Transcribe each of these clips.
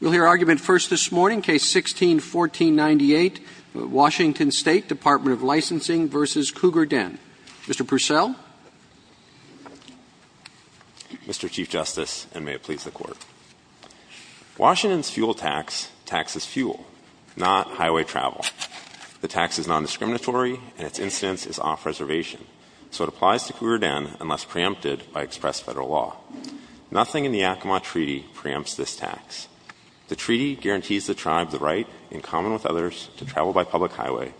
We'll hear argument first this morning, Case No. 16-1498, Washington State Dept. of Licensing v. Cougar Den. Mr. Purcell. Mr. Chief Justice, and may it please the Court, Washington's fuel tax taxes fuel, not highway travel. The tax is nondiscriminatory, and its instance is off-reservation, so it applies to Cougar Den unless preempted by expressed Federal law. Nothing in the Yakima Treaty preempts this tax. The treaty guarantees the tribe the right, in common with others, to travel by public highway,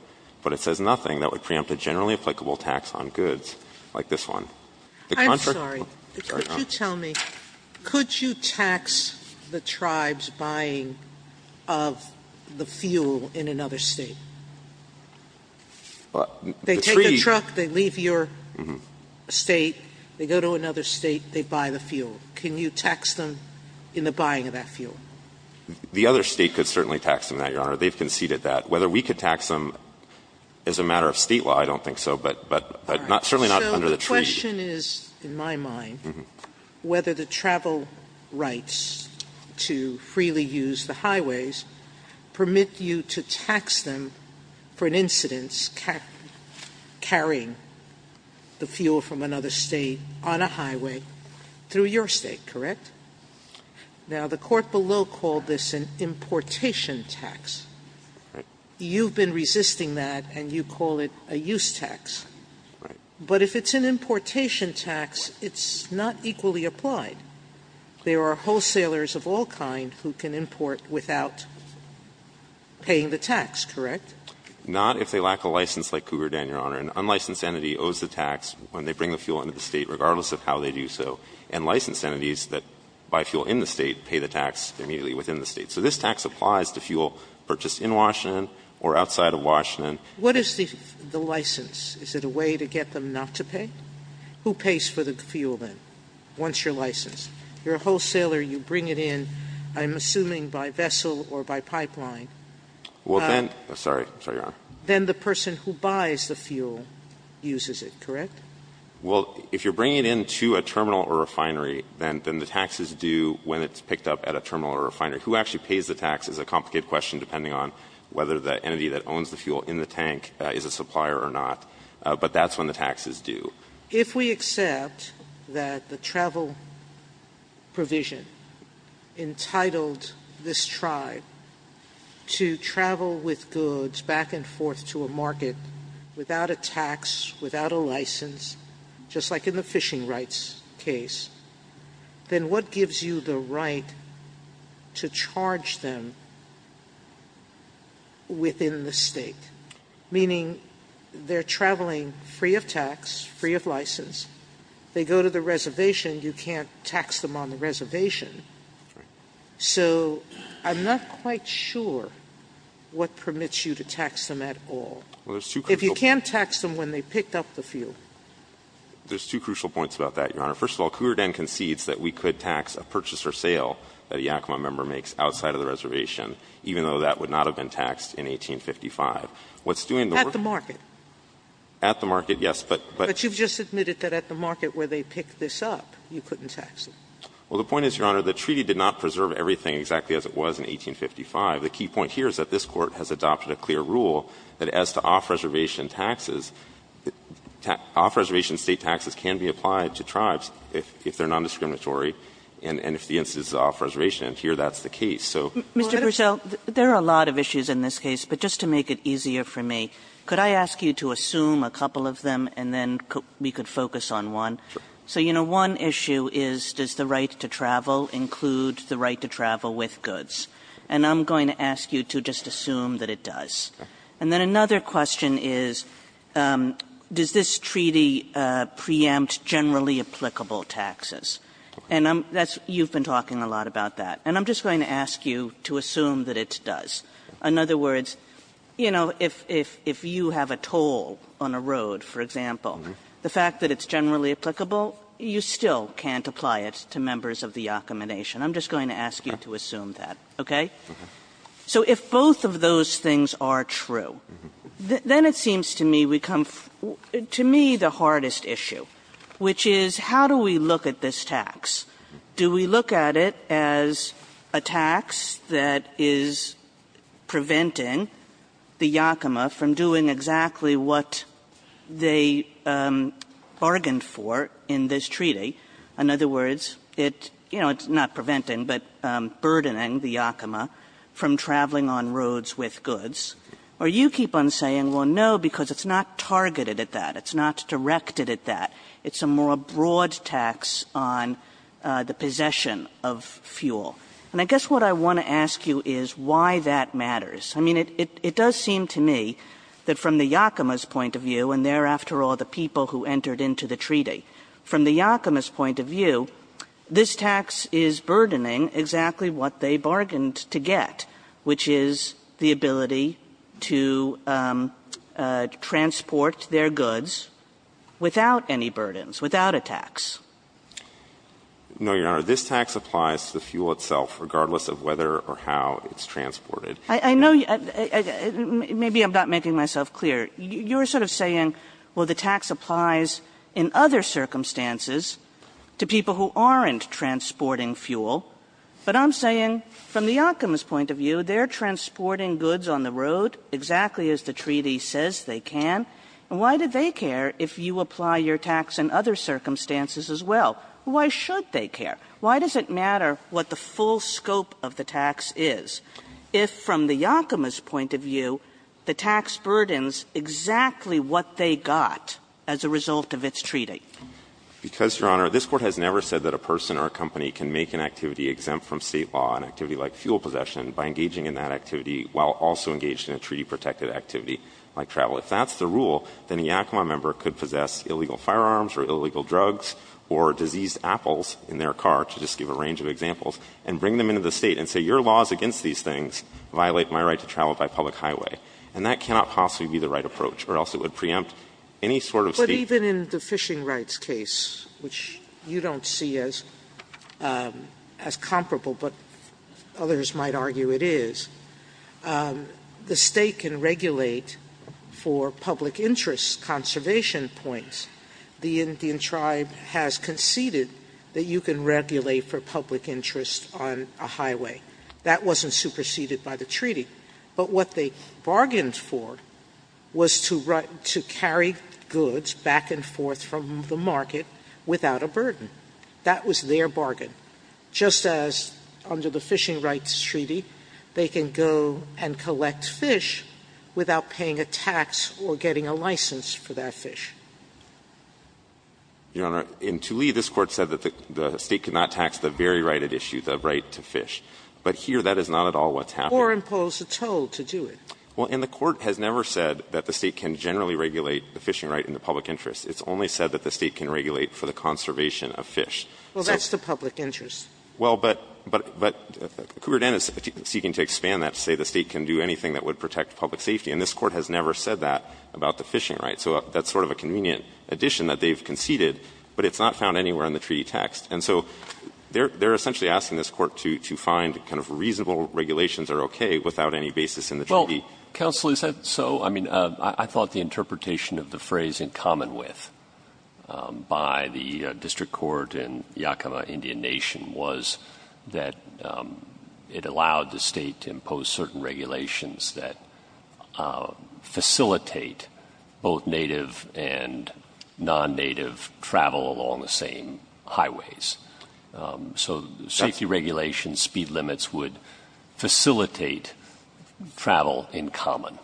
but it says nothing that would preempt a generally applicable tax on goods like this one. of the United States. Sotomayor, could you tell me, could you tax the tribe's buying of the fuel in another State? They take the truck, they leave your State, they go to another State, they buy the fuel. Can you tax them in the buying of that fuel? The other State could certainly tax them that, Your Honor. They've conceded that. Whether we could tax them as a matter of State law, I don't think so, but not, certainly not under the treaty. So the question is, in my mind, whether the travel rights to freely use the highways permit you to tax them for an incidence carrying the fuel from another State on a highway through your State, correct? Now, the court below called this an importation tax. You've been resisting that, and you call it a use tax. But if it's an importation tax, it's not equally applied. There are wholesalers of all kind who can import without paying the tax, correct? Not if they lack a license like Cougar Den, Your Honor. An unlicensed entity owes the tax when they bring the fuel into the State, regardless of how they do so. And licensed entities that buy fuel in the State pay the tax immediately within the State. So this tax applies to fuel purchased in Washington or outside of Washington. Sotomayor, what is the license? Is it a way to get them not to pay? Who pays for the fuel, then, once you're licensed? You're a wholesaler, you bring it in, I'm assuming by vessel or by pipeline. Well, then the person who buys the fuel uses it, correct? Well, if you're bringing it in to a terminal or a refinery, then the tax is due when it's picked up at a terminal or a refinery. Who actually pays the tax is a complicated question, depending on whether the entity that owns the fuel in the tank is a supplier or not. But that's when the tax is due. If we accept that the travel provision entitled this tribe to travel with goods back and forth to a market without a tax, without a license, just like in the fishing rights case, then what gives you the right to charge them within the State? Meaning, they're traveling free of tax, free of license. They go to the reservation, you can't tax them on the reservation. So I'm not quite sure what permits you to tax them at all. If you can't tax them when they picked up the fuel. There's two crucial points about that, Your Honor. First of all, Couer d'Anne concedes that we could tax a purchase or sale that a Yakima member makes outside of the reservation, even though that would not have been taxed in 1855. What's doing the work? At the market. At the market, yes, but you've just admitted that at the market where they picked this up, you couldn't tax them. Well, the point is, Your Honor, the treaty did not preserve everything exactly as it was in 1855. The key point here is that this Court has adopted a clear rule that as to off-reservation taxes, off-reservation State taxes can be applied to tribes if they're nondiscriminatory and if the instance is off-reservation, and here that's the case. So what I'm saying is that there are a lot of issues in this case, but just to make it easier for me, could I ask you to assume a couple of them and then we could focus on one? Sure. So, you know, one issue is, does the right to travel include the right to travel with goods? And I'm going to ask you to just assume that it does. And then another question is, does this treaty preempt generally applicable taxes? And that's you've been talking a lot about that. And I'm just going to ask you to assume that it does. In other words, you know, if you have a toll on a road, for example, the fact that it's generally applicable, you still can't apply it to members of the Yakima Nation. I'm just going to ask you to assume that, okay? So if both of those things are true, then it seems to me we come to me the hardest issue, which is how do we look at this tax? Do we look at it as a tax that is preventing the Yakima from doing exactly what they bargained for in this treaty? In other words, it's not preventing, but burdening the Yakima from traveling on roads with goods. Or you keep on saying, well, no, because it's not targeted at that. It's not directed at that. It's a more broad tax on the possession of fuel. And I guess what I want to ask you is why that matters. I mean, it does seem to me that from the Yakima's point of view, and they're after all the people who entered into the treaty, from the Yakima's point of view, this tax is burdening exactly what they bargained to get, which is the ability to transport their goods without any burdens, without a tax. No, Your Honor. This tax applies to the fuel itself, regardless of whether or how it's transported. I know you – maybe I'm not making myself clear. You're sort of saying, well, the tax applies in other circumstances to people who aren't transporting fuel. But I'm saying from the Yakima's point of view, they're transporting goods on the road exactly as the treaty says they can, and why do they care if you apply your tax in other circumstances as well? Why should they care? Why does it matter what the full scope of the tax is if from the Yakima's point of view the tax burdens exactly what they got as a result of its treaty? Because, Your Honor, this Court has never said that a person or a company can make an activity exempt from State law, an activity like fuel possession, by engaging in that activity while also engaged in a treaty-protected activity like travel. If that's the rule, then a Yakima member could possess illegal firearms or illegal drugs or diseased apples in their car, to just give a range of examples, and bring them into the State and say, your laws against these things violate my right to travel by public highway. And that cannot possibly be the right approach, or else it would preempt any sort of State Sotomayor, but even in the fishing rights case, which you don't see as comparable, but others might argue it is, the State can regulate for public interest conservation points. The Indian tribe has conceded that you can regulate for public interest on a highway. That wasn't superseded by the treaty. But what they bargained for was to carry goods back and forth from the market without a burden. That was their bargain, just as under the Fishing Rights Treaty, they can go and collect fish without paying a tax or getting a license for that fish. Your Honor, in Tuley, this Court said that the State cannot tax the very right at issue, the right to fish. But here, that is not at all what's happening. Sotomayor imposed a toll to do it. Well, and the Court has never said that the State can generally regulate the fishing right in the public interest. It's only said that the State can regulate for the conservation of fish. Well, that's the public interest. Well, but, but, but, Cougar Dan is seeking to expand that to say the State can do anything that would protect public safety, and this Court has never said that about the fishing right. So that's sort of a convenient addition that they've conceded, but it's not found anywhere in the treaty text. And so they're, they're essentially asking this Court to, to find kind of reasonable regulations that are okay without any basis in the treaty. Well, counsel, is that so? I mean, I thought the interpretation of the phrase in common with, by the district court in Yakima Indian Nation was that it allowed the State to impose certain regulations that facilitate both native and non-native travel along the same highways. So safety regulations, speed limits would facilitate travel in common.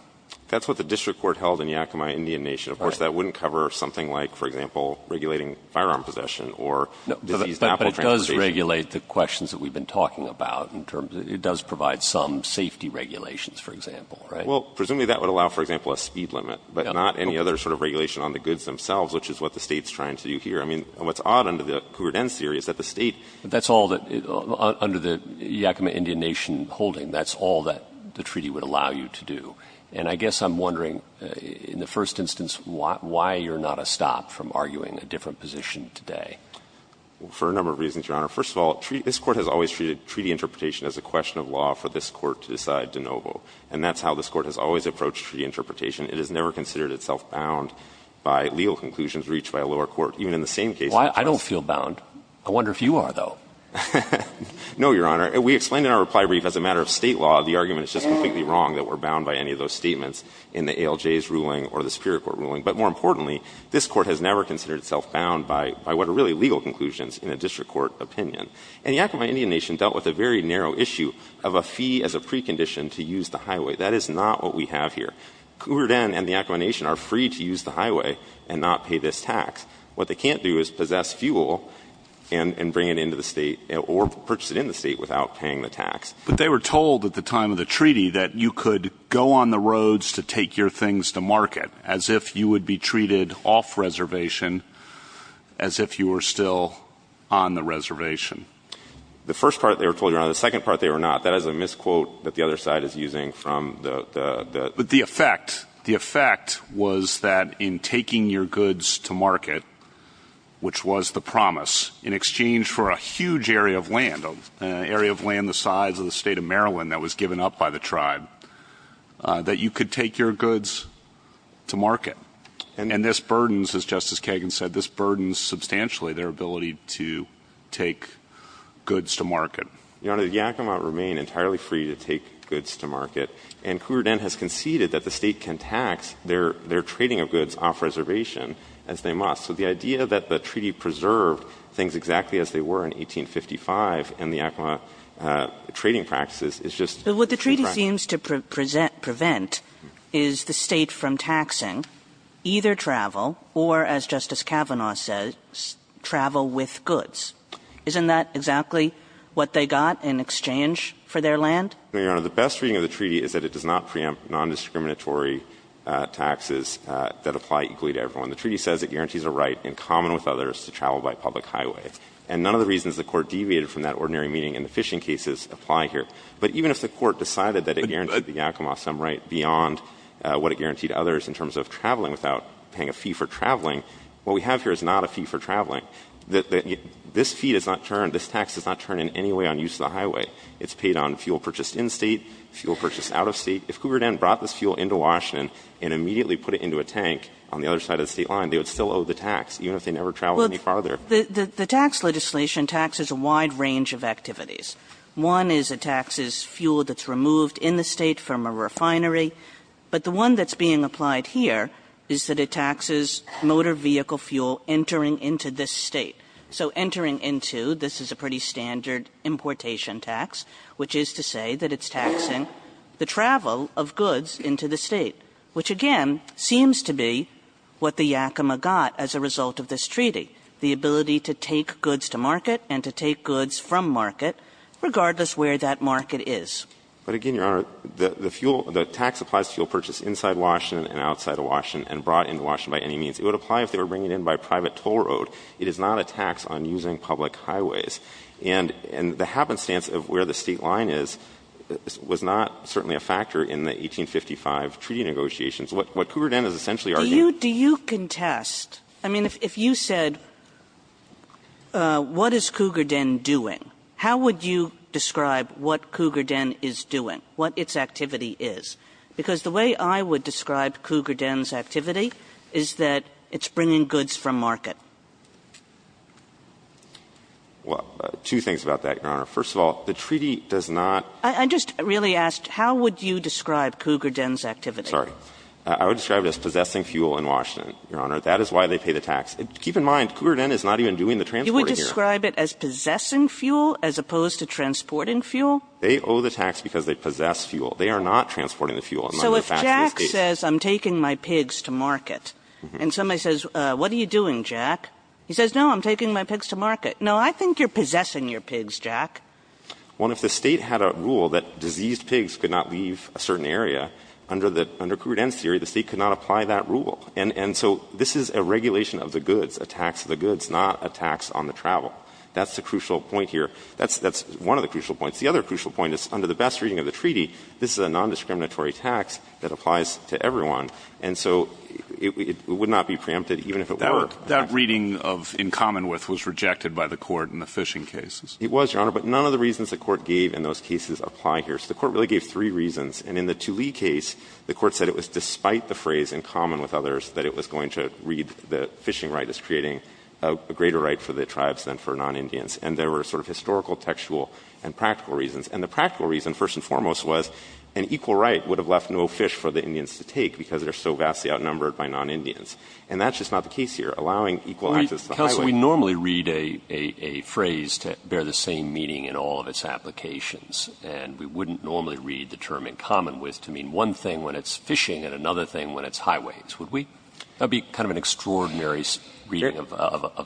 That's what the district court held in Yakima Indian Nation. Of course, that wouldn't cover something like, for example, regulating firearm possession or diseased apple transportation. But it does regulate the questions that we've been talking about in terms of, it does provide some safety regulations, for example, right? Well, presumably that would allow, for example, a speed limit, but not any other sort of regulation on the goods themselves, which is what the State's trying to do here. I mean, what's odd under the Court N's theory is that the State — But that's all that, under the Yakima Indian Nation holding, that's all that the treaty would allow you to do. And I guess I'm wondering, in the first instance, why you're not a stop from arguing a different position today? For a number of reasons, Your Honor. First of all, this Court has always treated treaty interpretation as a question of law for this Court to decide de novo. And that's how this Court has always approached treaty interpretation. It has never considered itself bound by legal conclusions reached by a lower court. Even in the same case — Well, I don't feel bound. I wonder if you are, though. No, Your Honor. We explained in our reply brief, as a matter of State law, the argument is just completely wrong that we're bound by any of those statements in the ALJ's ruling or the Superior Court ruling. But more importantly, this Court has never considered itself bound by what are really legal conclusions in a district court opinion. And the Yakima Indian Nation dealt with a very narrow issue of a fee as a precondition to use the highway. That is not what we have here. Coubertin and the Yakima Nation are free to use the highway and not pay this tax. What they can't do is possess fuel and bring it into the State or purchase it in the State without paying the tax. But they were told at the time of the treaty that you could go on the roads to take your things to market, as if you would be treated off reservation, as if you were still on the reservation. The first part they were told, Your Honor. The second part they were not. That is a misquote that the other side is using from the — But the effect, the effect was that in taking your goods to market, which was the promise, in exchange for a huge area of land, an area of land the size of the State of Maryland that was given up by the tribe, that you could take your goods to market. And this burdens, as Justice Kagan said, this burdens substantially their ability to take goods to market. Your Honor, the Yakima remain entirely free to take goods to market. And Cougar Den has conceded that the State can tax their trading of goods off reservation as they must. So the idea that the treaty preserved things exactly as they were in 1855 in the Yakima trading practices is just — Kagan. But what the treaty seems to prevent is the State from taxing either travel or, as Justice Kavanaugh says, travel with goods. Isn't that exactly what they got in exchange for their land? Your Honor, the best reading of the treaty is that it does not preempt nondiscriminatory taxes that apply equally to everyone. The treaty says it guarantees a right in common with others to travel by public highways. And none of the reasons the Court deviated from that ordinary meaning in the fishing cases apply here. But even if the Court decided that it guaranteed the Yakima some right beyond what it guaranteed others in terms of traveling without paying a fee for traveling, what we have here is not a fee for traveling. This fee does not turn, this tax does not turn in any way on use of the highway. It's paid on fuel purchased in State, fuel purchased out of State. If Coubertin brought this fuel into Washington and immediately put it into a tank on the other side of the State line, they would still owe the tax, even if they never traveled any farther. Kagan. The tax legislation taxes a wide range of activities. One is it taxes fuel that's removed in the State from a refinery. But the one that's being applied here is that it taxes motor vehicle fuel entering into this State. So entering into, this is a pretty standard importation tax, which is to say that it's taxing the travel of goods into the State, which again seems to be what the Yakima got as a result of this treaty, the ability to take goods to market and to take goods from market, regardless where that market is. But again, Your Honor, the fuel, the tax applies to fuel purchased inside Washington and outside of Washington and brought into Washington by any means. It would apply if they were bringing it in by private toll road. It is not a tax on using public highways. And the happenstance of where the State line is was not certainly a factor in the 1855 treaty negotiations. What Cougar Den is essentially arguing -- Kagan Do you contest, I mean, if you said what is Cougar Den doing, how would you describe what Cougar Den is doing, what its activity is? Because the way I would describe Cougar Den's activity is that it's bringing goods from market. Well, two things about that, Your Honor. First of all, the treaty does not -- I just really asked, how would you describe Cougar Den's activity? Sorry. I would describe it as possessing fuel in Washington, Your Honor. That is why they pay the tax. Keep in mind, Cougar Den is not even doing the transporting here. You would describe it as possessing fuel as opposed to transporting fuel? They owe the tax because they possess fuel. They are not transporting the fuel. So if Jack says, I'm taking my pigs to market, and somebody says, what are you doing, Jack? He says, no, I'm taking my pigs to market. No, I think you're possessing your pigs, Jack. Well, if the State had a rule that diseased pigs could not leave a certain area, under the – under Cougar Den's theory, the State could not apply that rule. And so this is a regulation of the goods, a tax of the goods, not a tax on the travel. That's the crucial point here. That's one of the crucial points. The other crucial point is, under the best reading of the treaty, this is a nondiscriminatory tax that applies to everyone. And so it would not be preempted, even if it were. That reading of in common with was rejected by the Court in the fishing cases. It was, Your Honor, but none of the reasons the Court gave in those cases apply here. So the Court really gave three reasons. And in the Tulee case, the Court said it was despite the phrase in common with others that it was going to read the fishing right as creating a greater right for the tribes than for non-Indians. And there were sort of historical, textual, and practical reasons. And the practical reason, first and foremost, was an equal right would have left no fish for the Indians to take because they're so vastly outnumbered by non-Indians. And that's just not the case here, allowing equal access to the highway. Roberts. Counsel, we normally read a phrase to bear the same meaning in all of its applications. And we wouldn't normally read the term in common with to mean one thing when it's fishing and another thing when it's highways. Would we? That would be kind of an extraordinary reading of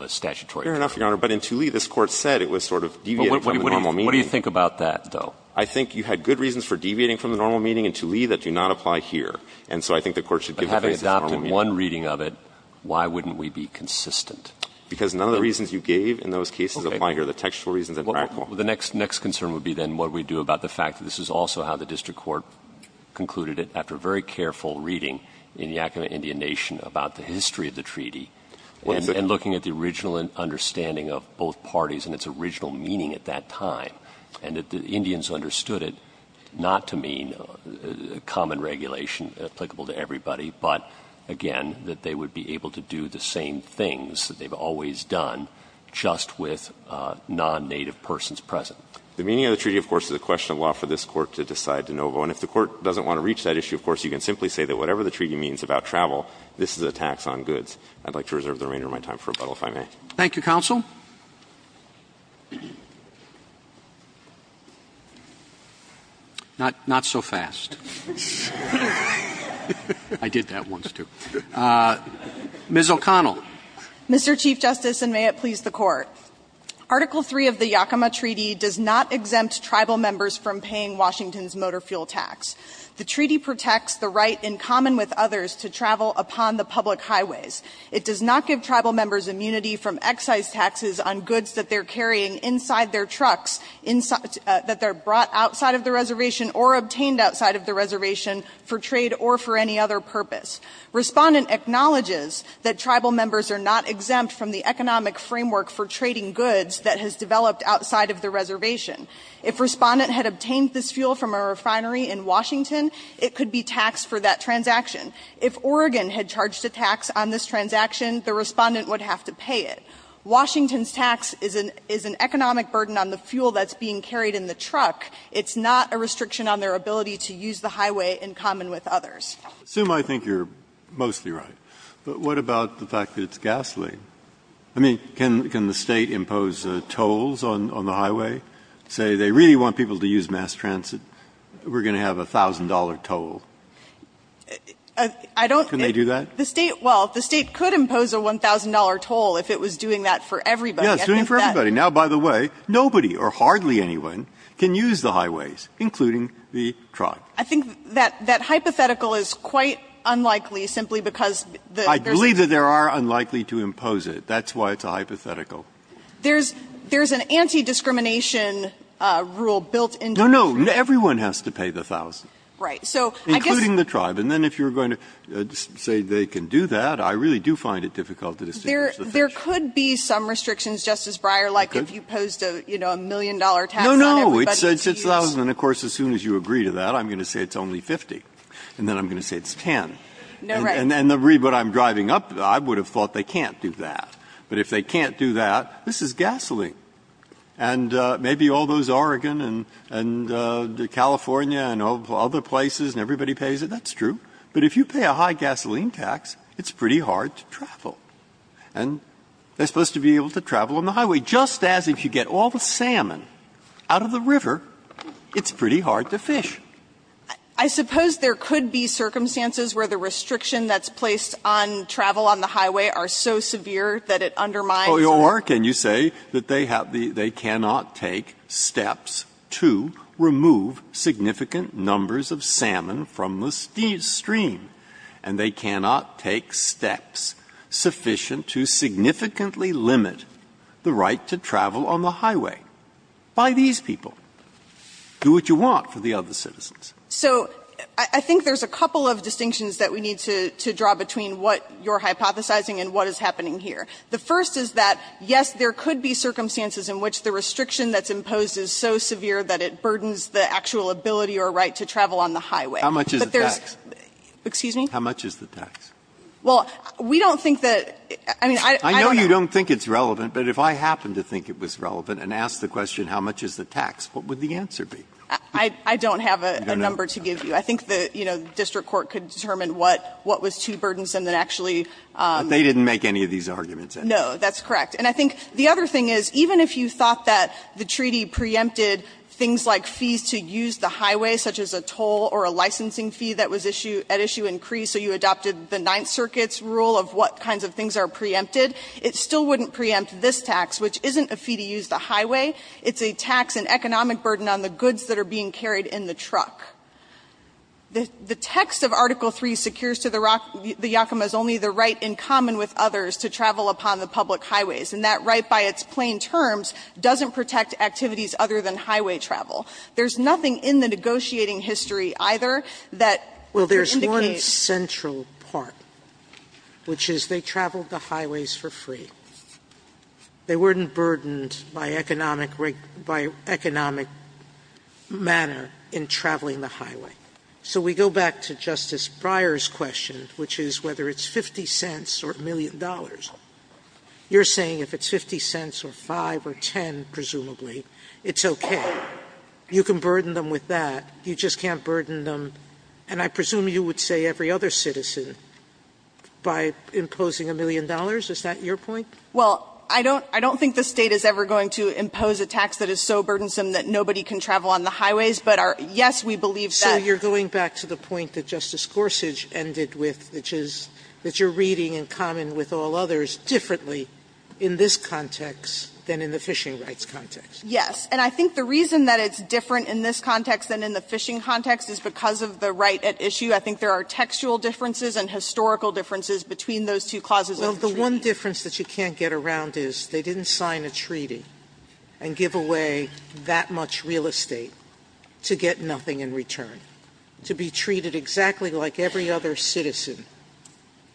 a statutory term. Fair enough, Your Honor. But in Tulee, this Court said it was sort of deviating from the normal meaning. What do you think about that, though? I think you had good reasons for deviating from the normal meaning in Tulee that do not apply here. And so I think the Court should give the phrase the normal meaning. But having adopted one reading of it, why wouldn't we be consistent? Because none of the reasons you gave in those cases apply here. The textual reasons are practical. Well, the next concern would be then what we do about the fact that this is also how the district court concluded it after very careful reading in Yakima Indian Nation about the history of the treaty and looking at the original understanding of both parties and its original meaning at that time. And that the Indians understood it not to mean common regulation applicable to everybody, but again, that they would be able to do the same things that they've always done just with non-native persons present. The meaning of the treaty, of course, is a question of law for this Court to decide de novo. And if the Court doesn't want to reach that issue, of course, you can simply say that whatever the treaty means about travel, this is a tax on goods. I'd like to reserve the remainder of my time for rebuttal, if I may. Roberts. Thank you, counsel. Not so fast. I did that once, too. Ms. O'Connell. Mr. Chief Justice, and may it please the Court. Article III of the Yakima Treaty does not exempt tribal members from paying Washington's motor fuel tax. The treaty protects the right in common with others to travel upon the public highways. It does not give tribal members immunity from excise taxes on goods that they're carrying inside their trucks, that they're brought outside of the reservation or obtained outside of the reservation for trade or for any other purpose. Respondent acknowledges that tribal members are not exempt from the economic framework for trading goods that has developed outside of the reservation. If Respondent had obtained this fuel from a refinery in Washington, it could be taxed for that transaction. If Oregon had charged a tax on this transaction, the Respondent would have to pay it. Washington's tax is an economic burden on the fuel that's being carried in the truck. It's not a restriction on their ability to use the highway in common with others. I assume I think you're mostly right. But what about the fact that it's gasoline? I mean, can the State impose tolls on the highway, say they really want people to use mass transit, we're going to have a $1,000 toll? I don't think. Breyer, can they do that? The State, well, the State could impose a $1,000 toll if it was doing that for everybody. Breyer, yes, doing it for everybody. Now, by the way, nobody or hardly anyone can use the highways, including the truck. I think that hypothetical is quite unlikely simply because there's a. I believe that there are unlikely to impose it. That's why it's a hypothetical. There's an anti-discrimination rule built into the rule. No, no. Everyone has to pay the $1,000. Right. Including the tribe. And then if you're going to say they can do that, I really do find it difficult to distinguish the fish. There could be some restrictions, Justice Breyer, like if you posed a, you know, a million-dollar tax on everybody to use. No, no. It's $1,000. And of course, as soon as you agree to that, I'm going to say it's only 50. And then I'm going to say it's 10. No, right. And the read what I'm driving up, I would have thought they can't do that. But if they can't do that, this is gasoline. And maybe all those Oregon and California and other places, and everybody pays it. That's true. But if you pay a high gasoline tax, it's pretty hard to travel. And they're supposed to be able to travel on the highway. Just as if you get all the salmon out of the river, it's pretty hard to fish. I suppose there could be circumstances where the restriction that's placed on travel on the highway are so severe that it undermines. Breyer. Or can you say that they have the they cannot take steps to remove significant numbers of salmon from the stream, and they cannot take steps sufficient to significantly limit the right to travel on the highway by these people? Do what you want for the other citizens. So I think there's a couple of distinctions that we need to draw between what you're hypothesizing and what is happening here. The first is that, yes, there could be circumstances in which the restriction that's imposed is so severe that it burdens the actual ability or right to travel on the highway. But there's How much is the tax? Excuse me? How much is the tax? Well, we don't think that – I mean, I don't know. I know you don't think it's relevant, but if I happened to think it was relevant and asked the question, how much is the tax, what would the answer be? I don't have a number to give you. I think the, you know, district court could determine what was too burdensome that actually – But they didn't make any of these arguments, did they? No, that's correct. And I think the other thing is, even if you thought that the treaty preempted things like fees to use the highway, such as a toll or a licensing fee that was issued at issue in Cree, so you adopted the Ninth Circuit's rule of what kinds of things are preempted, it still wouldn't preempt this tax, which isn't a fee to use the highway. It's a tax, an economic burden on the goods that are being carried in the truck. The text of Article III secures to the Yakima's only the right in common with others to travel upon the public highways, and that right by its plain terms doesn't protect activities other than highway travel. There's nothing in the negotiating history either that indicates – Well, there's one central part, which is they traveled the highways for free. They weren't burdened by economic manner in traveling the highway. So we go back to Justice Breyer's question, which is whether it's 50 cents or a million dollars. You're saying if it's 50 cents or 5 or 10, presumably, it's okay. You can burden them with that. You just can't burden them – and I presume you would say every other citizen by imposing a million dollars. Is that your point? Well, I don't think the State is ever going to impose a tax that is so burdensome that nobody can travel on the highways, but yes, we believe that – So you're going back to the point that Justice Gorsuch ended with, which is that you're reading in common with all others differently in this context than in the fishing rights context. Yes. And I think the reason that it's different in this context than in the fishing context is because of the right at issue. I think there are textual differences and historical differences between those two clauses of the treaty. Well, the one difference that you can't get around is they didn't sign a treaty and give away that much real estate to get nothing in return, to be treated exactly like every other citizen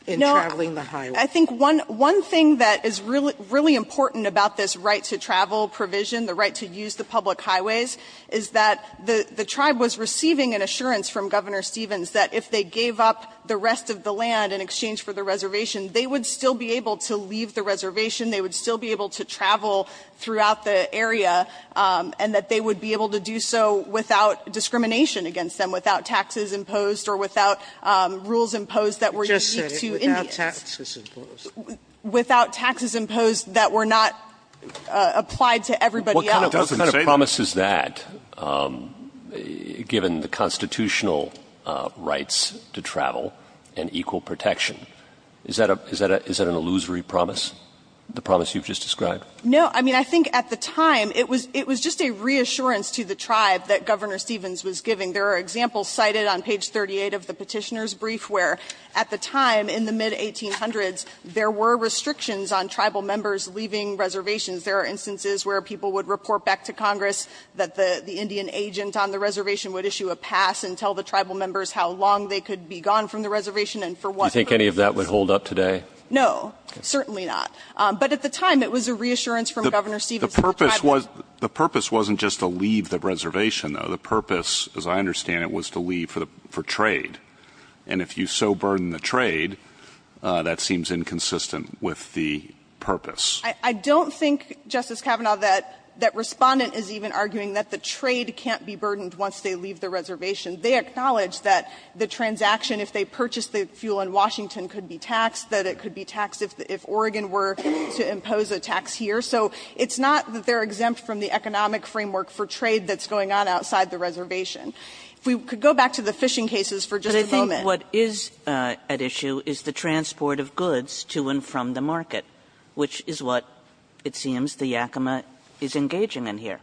in traveling the highway. No, I think one thing that is really important about this right to travel provision, the right to use the public highways, is that the tribe was receiving an assurance from Governor Stevens that if they gave up the rest of the land in exchange for the reservation, they would still be able to leave the reservation, they would still be able to travel throughout the area, and that they would be able to do so without discrimination against them, without taxes imposed or without rules imposed that were unique to Indians. Just say it, without taxes imposed. Without taxes imposed that were not applied to everybody else. What kind of promise is that, given the constitutional rights to travel and equal protection? Is that an illusory promise, the promise you've just described? No. I mean, I think at the time it was just a reassurance to the tribe that Governor Stevens was giving. There are examples cited on page 38 of the Petitioner's Brief where at the time, in the mid-1800s, there were restrictions on tribal members leaving reservations. There are instances where people would report back to Congress that the Indian agent on the reservation would issue a pass and tell the tribal members how long they could be gone from the reservation and for what purpose. Do you think any of that would hold up today? No, certainly not. But at the time, it was a reassurance from Governor Stevens that the tribe would The purpose wasn't just to leave the reservation, though. The purpose, as I understand it, was to leave for trade. And if you so burden the trade, that seems inconsistent with the purpose. I don't think, Justice Kavanaugh, that Respondent is even arguing that the trade can't be burdened once they leave the reservation. They acknowledge that the transaction, if they purchase the fuel in Washington, could be taxed, that it could be taxed if Oregon were to impose a tax here. So it's not that they're exempt from the economic framework for trade that's going on outside the reservation. If we could go back to the fishing cases for just a moment. Kagan, what is at issue is the transport of goods to and from the market, which is what it seems the Yakima is engaging in here.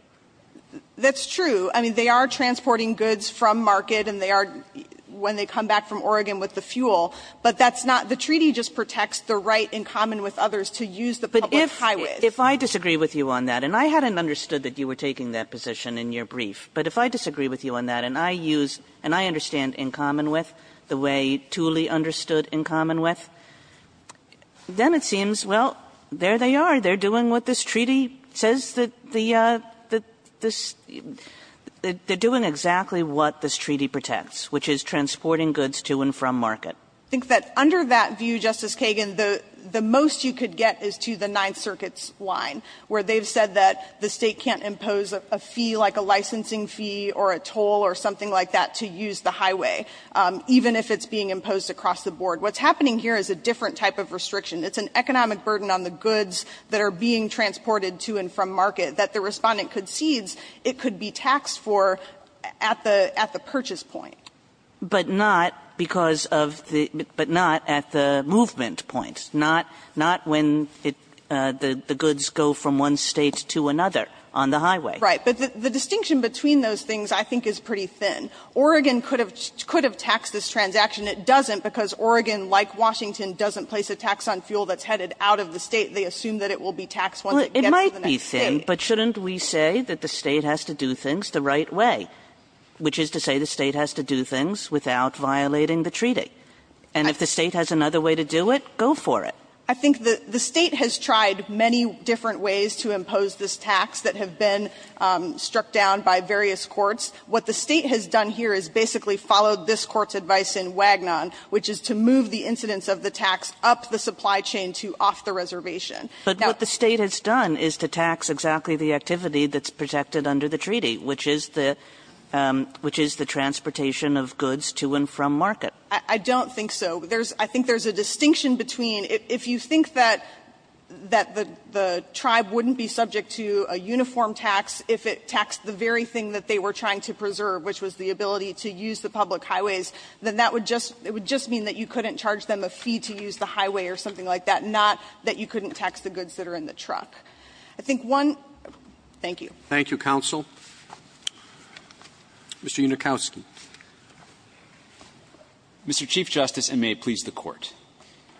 That's true. I mean, they are transporting goods from market, and they are when they come back from Oregon with the fuel. But that's not the treaty just protects the right in common with others to use the public highways. Kagan, if I disagree with you on that, and I hadn't understood that you were taking that position in your brief, but if I disagree with you on that, and I use, and I understand in common with, the way Tooley understood in common with, then it seems, well, there they are. They're doing what this treaty says the, the, this, they're doing exactly what this treaty protects, which is transporting goods to and from market. I think that under that view, Justice Kagan, the most you could get is to the Ninth Circuit's line, where they've said that the State can't impose a fee like a licensing fee or a toll or something like that to use the highway, even if it's being imposed across the board. What's happening here is a different type of restriction. It's an economic burden on the goods that are being transported to and from market that the Respondent concedes it could be taxed for at the, at the purchase point. Kagan But not because of the, but not at the movement point. Not, not when it, the, the goods go from one State to another on the highway. Right. But the distinction between those things, I think, is pretty thin. Oregon could have, could have taxed this transaction. It doesn't, because Oregon, like Washington, doesn't place a tax on fuel that's headed out of the State. They assume that it will be taxed once it gets to the next State. Kagan Well, it might be thin, but shouldn't we say that the State has to do things the right way, which is to say the State has to do things without violating the treaty? And if the State has another way to do it, go for it. I think the, the State has tried many different ways to impose this tax that have been struck down by various courts. What the State has done here is basically followed this Court's advice in Wagnon, which is to move the incidence of the tax up the supply chain to off the reservation. Now the State has done is to tax exactly the activity that's protected under the treaty, which is the, which is the transportation of goods to and from market. I don't think so. There's, I think there's a distinction between, if you think that, that the, the tribe wouldn't be subject to a uniform tax if it taxed the very thing that they were trying to preserve, which was the ability to use the public highways, then that would just, it would just mean that you couldn't charge them a fee to use the highway or something like that, not that you couldn't tax the goods that are in the truck. I think one, thank you. Roberts Thank you, counsel. Mr. Unikowsky. Unikowsky Mr. Chief Justice, and may it please the Court.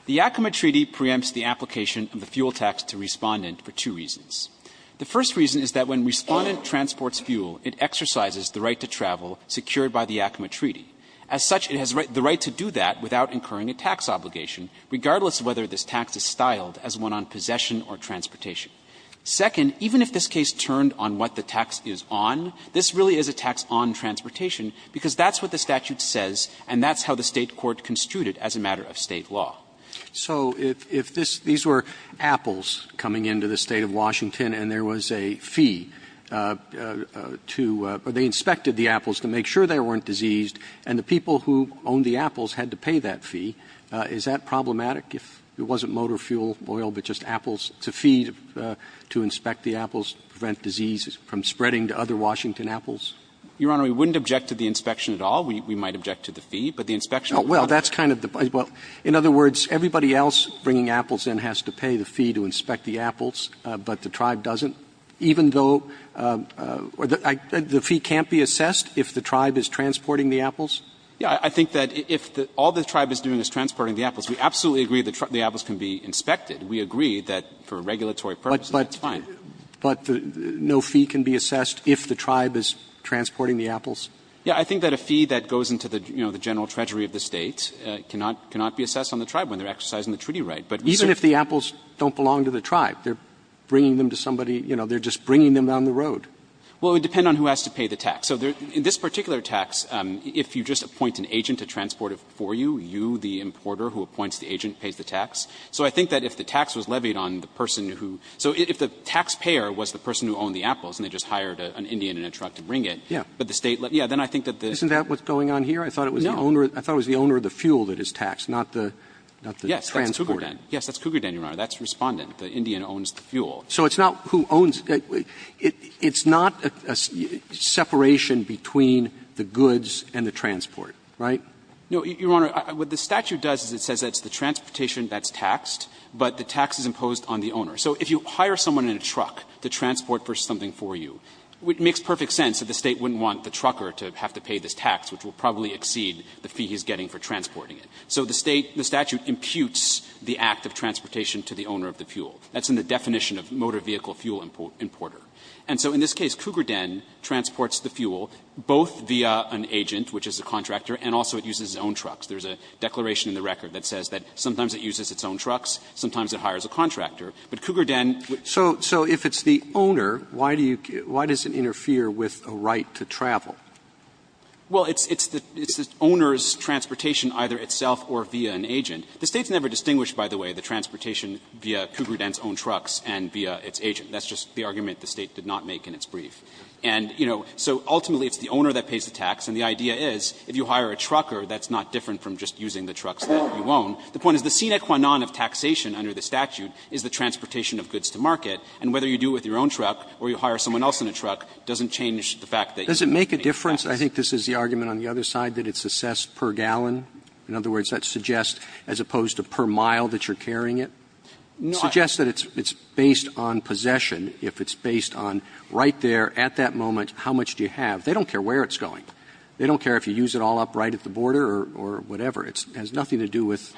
The Yakima Treaty preempts the application of the fuel tax to Respondent for two reasons. The first reason is that when Respondent transports fuel, it exercises the right to travel secured by the Yakima Treaty. As such, it has the right to do that without incurring a tax obligation, regardless of whether this tax is styled as one on possession or transportation. Second, even if this case turned on what the tax is on, this really is a tax on transportation, because that's what the statute says and that's how the State court construed it as a matter of State law. Roberts So if this ‑‑ these were apples coming into the State of Washington and there was a fee to ‑‑ or they inspected the apples to make sure they weren't diseased, and the people who owned the apples had to pay that fee, is that problematic if it wasn't motor fuel, oil, but just apples to feed, to inspect the apples, prevent disease from spreading to other Washington apples? Unikowsky Your Honor, we wouldn't object to the inspection at all. We might object to the fee, but the inspection ‑‑ Roberts Well, in other words, everybody else bringing apples in has to pay the fee to inspect the apples, but the tribe doesn't, even though the fee can't be assessed if the tribe is transporting the apples? Unikowsky Yes. I think that if all the tribe is doing is transporting the apples, we absolutely agree that the apples can be inspected. We agree that for regulatory purposes, that's fine. Roberts But no fee can be assessed if the tribe is transporting the apples? Unikowsky Yes. I think that a fee that goes into the general treasury of the State cannot be assessed on the tribe when they are exercising the treaty right. Roberts Even if the apples don't belong to the tribe? They are bringing them to somebody, you know, they are just bringing them down the road. Unikowsky Well, it would depend on who has to pay the tax. So in this particular tax, if you just appoint an agent to transport it for you, you, the importer who appoints the agent, pays the tax. So I think that if the tax was levied on the person who ‑‑ so if the taxpayer was the person who owned the apples and they just hired an Indian in a truck to bring it, but the State let ‑‑ yeah, then I think that the ‑‑ Roberts Isn't that what's going on here? I thought it was the owner of the fuel that is taxed, not the transport. Unikowsky Yes, that's Cougarden, Your Honor. That's Respondent. The Indian owns the fuel. Roberts So it's not who owns ‑‑ it's not a separation between the goods and the transport, right? Unikowsky No, Your Honor. What the statute does is it says that it's the transportation that's taxed, but the tax is imposed on the owner. So if you hire someone in a truck to transport for something for you, it makes perfect sense that the State wouldn't want the trucker to have to pay this tax, which will probably exceed the fee he's getting for transporting it. So the State ‑‑ the statute imputes the act of transportation to the owner of the fuel. That's in the definition of motor vehicle fuel importer. And so in this case, Cougarden transports the fuel both via an agent, which is a contractor, and also it uses its own trucks. There's a declaration in the record that says that sometimes it uses its own trucks, sometimes it hires a contractor. But Cougarden would ‑‑ Breyer Well, it's the owner's transportation either itself or via an agent. The State's never distinguished, by the way, the transportation via Cougarden's own trucks and via its agent. That's just the argument the State did not make in its brief. And, you know, so ultimately it's the owner that pays the tax, and the idea is if you hire a trucker, that's not different from just using the trucks that you own. The point is the sine qua non of taxation under the statute is the transportation of goods to market, and whether you do it with your own truck or you hire someone else in a truck doesn't change the fact that you're paying the tax. Roberts I think this is the argument on the other side, that it's assessed per gallon. In other words, that suggests, as opposed to per mile that you're carrying it, suggests that it's based on possession if it's based on right there at that moment, how much do you have. They don't care where it's going. They don't care if you use it all up right at the border or whatever. It has nothing to do with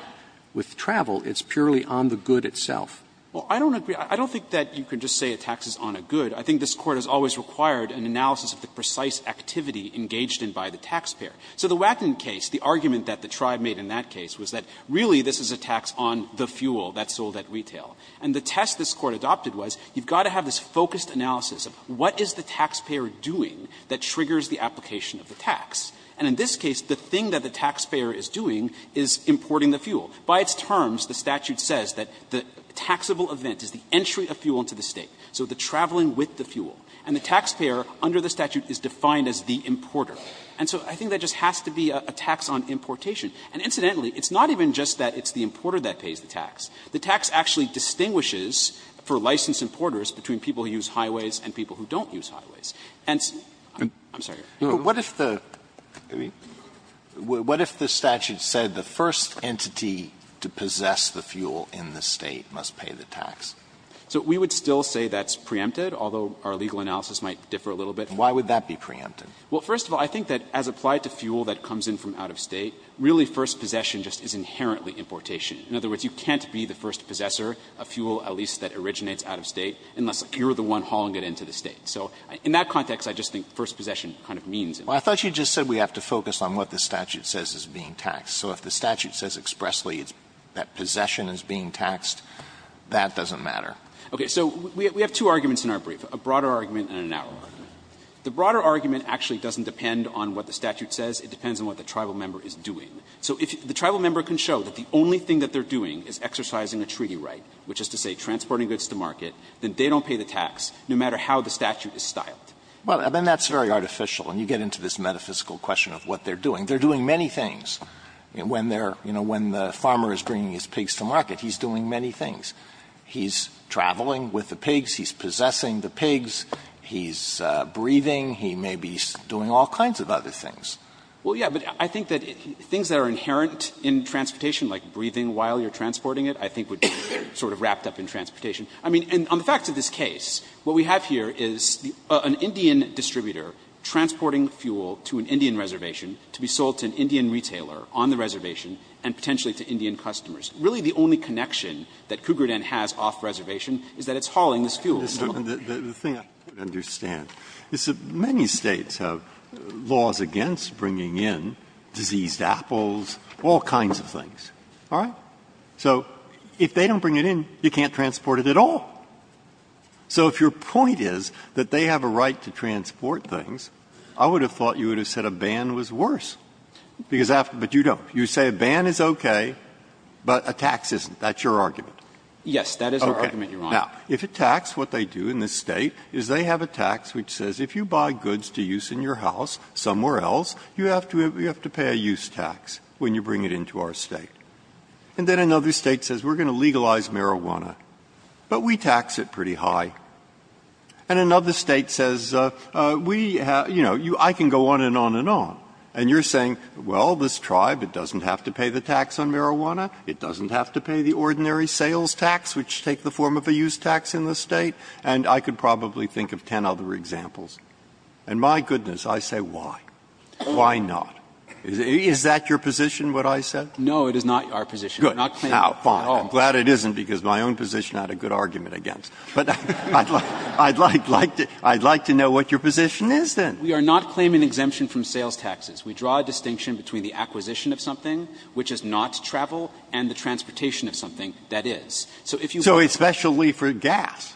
travel. It's purely on the good itself. Gannon Well, I don't agree. I don't think that you can just say a tax is on a good. I think this Court has always required an analysis of the precise activity engaged in by the taxpayer. So the Wacken case, the argument that the tribe made in that case was that really this is a tax on the fuel that's sold at retail. And the test this Court adopted was you've got to have this focused analysis of what is the taxpayer doing that triggers the application of the tax. And in this case, the thing that the taxpayer is doing is importing the fuel. By its terms, the statute says that the taxable event is the entry of fuel into the State, so the traveling with the fuel. And the taxpayer under the statute is defined as the importer. And so I think that just has to be a tax on importation. And incidentally, it's not even just that it's the importer that pays the tax. The tax actually distinguishes for licensed importers between people who use highways and people who don't use highways. And I'm sorry. Alito, what if the statute said the first entity to possess the fuel in the State must pay the tax? So we would still say that's preempted, although our legal analysis might differ a little bit. Why would that be preempted? Well, first of all, I think that as applied to fuel that comes in from out of State, really first possession just is inherently importation. In other words, you can't be the first possessor of fuel, at least that originates out of State, unless you're the one hauling it into the State. So in that context, I just think first possession kind of means it. Alito, I thought you just said we have to focus on what the statute says is being taxed. So if the statute says expressly that possession is being taxed, that doesn't matter. Okay. So we have two arguments in our brief, a broader argument and a narrow argument. The broader argument actually doesn't depend on what the statute says. It depends on what the tribal member is doing. So if the tribal member can show that the only thing that they're doing is exercising a treaty right, which is to say transporting goods to market, then they don't pay the statute is styled. Alito, I mean, that's very artificial, and you get into this metaphysical question of what they're doing. They're doing many things. When they're, you know, when the farmer is bringing his pigs to market, he's doing many things. He's traveling with the pigs, he's possessing the pigs, he's breathing, he may be doing all kinds of other things. Well, yes, but I think that things that are inherent in transportation, like breathing while you're transporting it, I think would be sort of wrapped up in transportation. I mean, and on the facts of this case, what we have here is an Indian distributor transporting fuel to an Indian reservation to be sold to an Indian retailer on the reservation and potentially to Indian customers. Really, the only connection that Cougar Den has off-reservation is that it's hauling this fuel. Breyer, the thing I don't understand is that many States have laws against bringing in diseased apples, all kinds of things, all right? So if they don't bring it in, you can't transport it at all. So if your point is that they have a right to transport things, I would have thought you would have said a ban was worse, because after you don't. You say a ban is okay, but a tax isn't. That's your argument. Yes, that is our argument, Your Honor. Now, if a tax, what they do in this State is they have a tax which says if you buy goods to use in your house somewhere else, you have to pay a use tax when you bring it into our State. And then another State says, we're going to legalize marijuana, but we tax it pretty high. And another State says, we have, you know, I can go on and on and on. And you're saying, well, this tribe, it doesn't have to pay the tax on marijuana. It doesn't have to pay the ordinary sales tax, which take the form of a use tax in this State. And I could probably think of ten other examples. And my goodness, I say, why? Why not? Is that your position, what I said? No, it is not our position. We're not claiming at all. I'm glad it isn't, because my own position I had a good argument against. But I'd like to know what your position is, then. We are not claiming exemption from sales taxes. We draw a distinction between the acquisition of something, which is not travel, and the transportation of something, that is. So if you buy it. So especially for gas.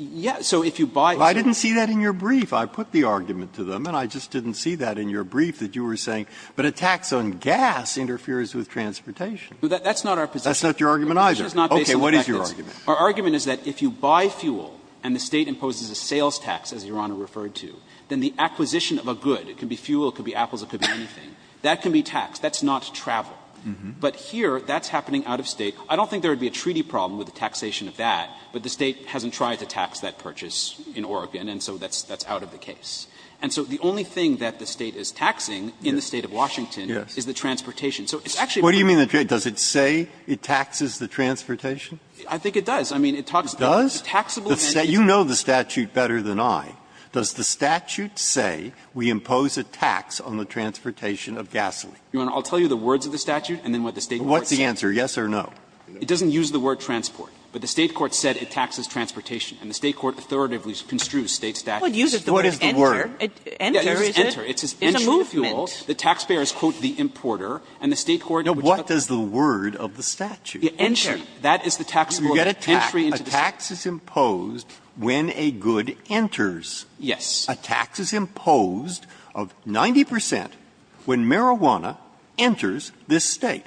Yes. So if you buy it. I didn't see that in your brief. I put the argument to them, and I just didn't see that in your brief, that you were in agreement with transportation. That's not your argument either. Okay. What is your argument? Our argument is that if you buy fuel and the State imposes a sales tax, as Your Honor referred to, then the acquisition of a good, it could be fuel, it could be apples, it could be anything, that can be taxed. That's not travel. But here, that's happening out of State. I don't think there would be a treaty problem with the taxation of that, but the State hasn't tried to tax that purchase in Oregon, and so that's out of the case. And so the only thing that the State is taxing in the State of Washington is the transportation. So it's actually a problem. Breyer. What do you mean, does it say it taxes the transportation? I think it does. I mean, it talks about the taxable event. It does? You know the statute better than I. Does the statute say we impose a tax on the transportation of gasoline? Your Honor, I'll tell you the words of the statute and then what the State court says. What's the answer, yes or no? It doesn't use the word transport, but the State court said it taxes transportation, and the State court authoritatively construes State statutes. What is the word? Enter. Enter is a movement. The taxpayer is, quote, the importer, and the State court. Now, what does the word of the statute? Entry. That is the taxable entry into the State. You get a tax. A tax is imposed when a good enters. Yes. A tax is imposed of 90 percent when marijuana enters this State.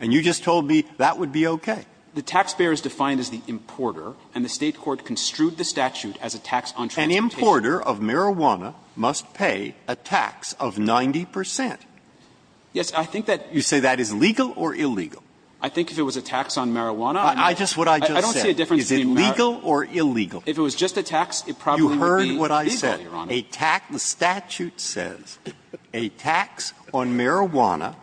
And you just told me that would be okay. The taxpayer is defined as the importer, and the State court construed the statute as a tax on transportation. An importer of marijuana must pay a tax of 90 percent. Yes. I think that you say that is legal or illegal. I think if it was a tax on marijuana, I don't see a difference between legal or illegal. If it was just a tax, it probably would be legal, Your Honor. You heard what I said. A tax, the statute says a tax on marijuana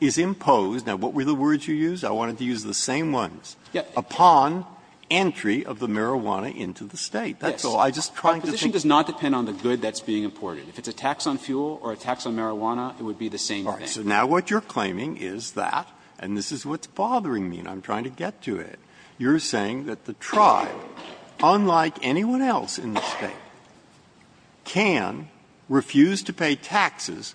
is imposed. Now, what were the words you used? I wanted to use the same ones. Upon entry of the marijuana into the State. That's all. I'm just trying to think. Our position does not depend on the good that's being imported. If it's a tax on fuel or a tax on marijuana, it would be the same thing. All right. So now what you're claiming is that, and this is what's bothering me and I'm trying to get to it, you're saying that the tribe, unlike anyone else in the State, can refuse to pay taxes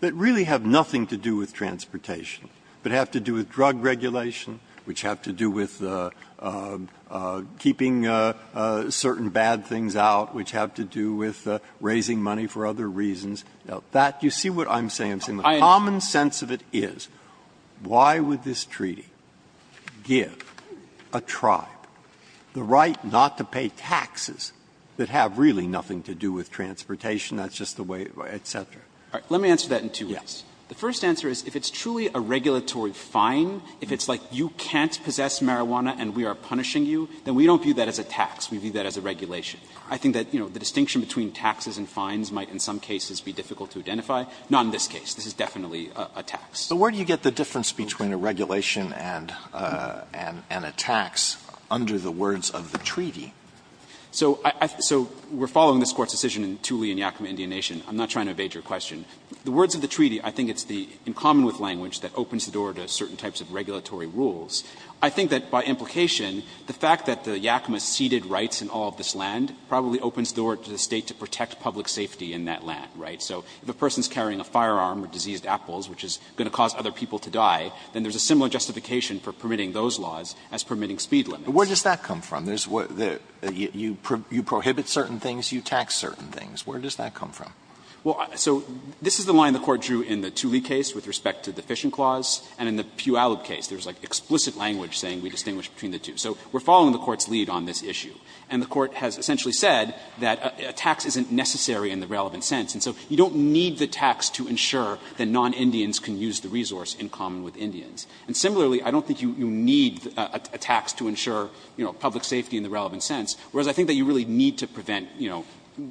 that really have nothing to do with transportation, but have to do with bad things out, which have to do with raising money for other reasons. Now, that, you see what I'm saying? The common sense of it is, why would this treaty give a tribe the right not to pay taxes that have really nothing to do with transportation, that's just the way, et cetera? Let me answer that in two ways. The first answer is, if it's truly a regulatory fine, if it's like you can't possess marijuana and we are punishing you, then we don't view that as a tax. We view that as a regulation. I think that, you know, the distinction between taxes and fines might in some cases be difficult to identify. Not in this case. This is definitely a tax. Alitoso, where do you get the difference between a regulation and a tax under the words of the treaty? So we're following this Court's decision in Thule and Yakima Indian Nation. I'm not trying to evade your question. The words of the treaty, I think it's the commonwealth language that opens the door to certain types of regulatory rules. I think that by implication, the fact that the Yakima ceded rights in all of this land probably opens the door to the State to protect public safety in that land, right? So if a person is carrying a firearm or diseased apples, which is going to cause other people to die, then there's a similar justification for permitting those laws as permitting speed limits. Alitoso, where does that come from? You prohibit certain things, you tax certain things. Where does that come from? Well, so this is the line the Court drew in the Thule case with respect to the fishing clause and in the Puyallup case. There's like explicit language saying we distinguish between the two. So we're following the Court's lead on this issue. And the Court has essentially said that a tax isn't necessary in the relevant sense. And so you don't need the tax to ensure that non-Indians can use the resource in common with Indians. And similarly, I don't think you need a tax to ensure, you know, public safety in the relevant sense, whereas I think that you really need to prevent, you know,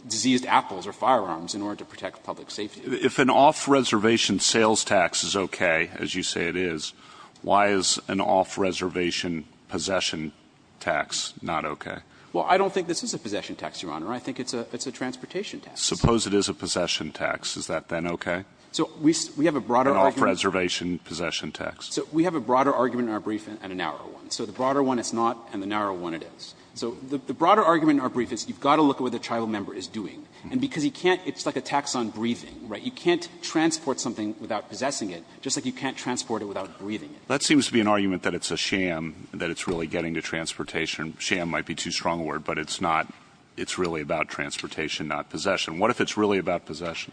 diseased apples or firearms in order to protect public safety. If an off-reservation sales tax is okay, as you say it is, why is an off-reservation possession tax not okay? Well, I don't think this is a possession tax, Your Honor. I think it's a transportation tax. Suppose it is a possession tax. Is that then okay? An off-reservation possession tax. So we have a broader argument in our brief and a narrow one. So the broader one is not and the narrow one it is. So the broader argument in our brief is you've got to look at what the tribal member is doing. And because you can't – it's like a tax on breathing, right? You can't transport something without possessing it, just like you can't transport it without breathing it. That seems to be an argument that it's a sham that it's really getting to transportation. Sham might be too strong a word, but it's not. It's really about transportation, not possession. What if it's really about possession?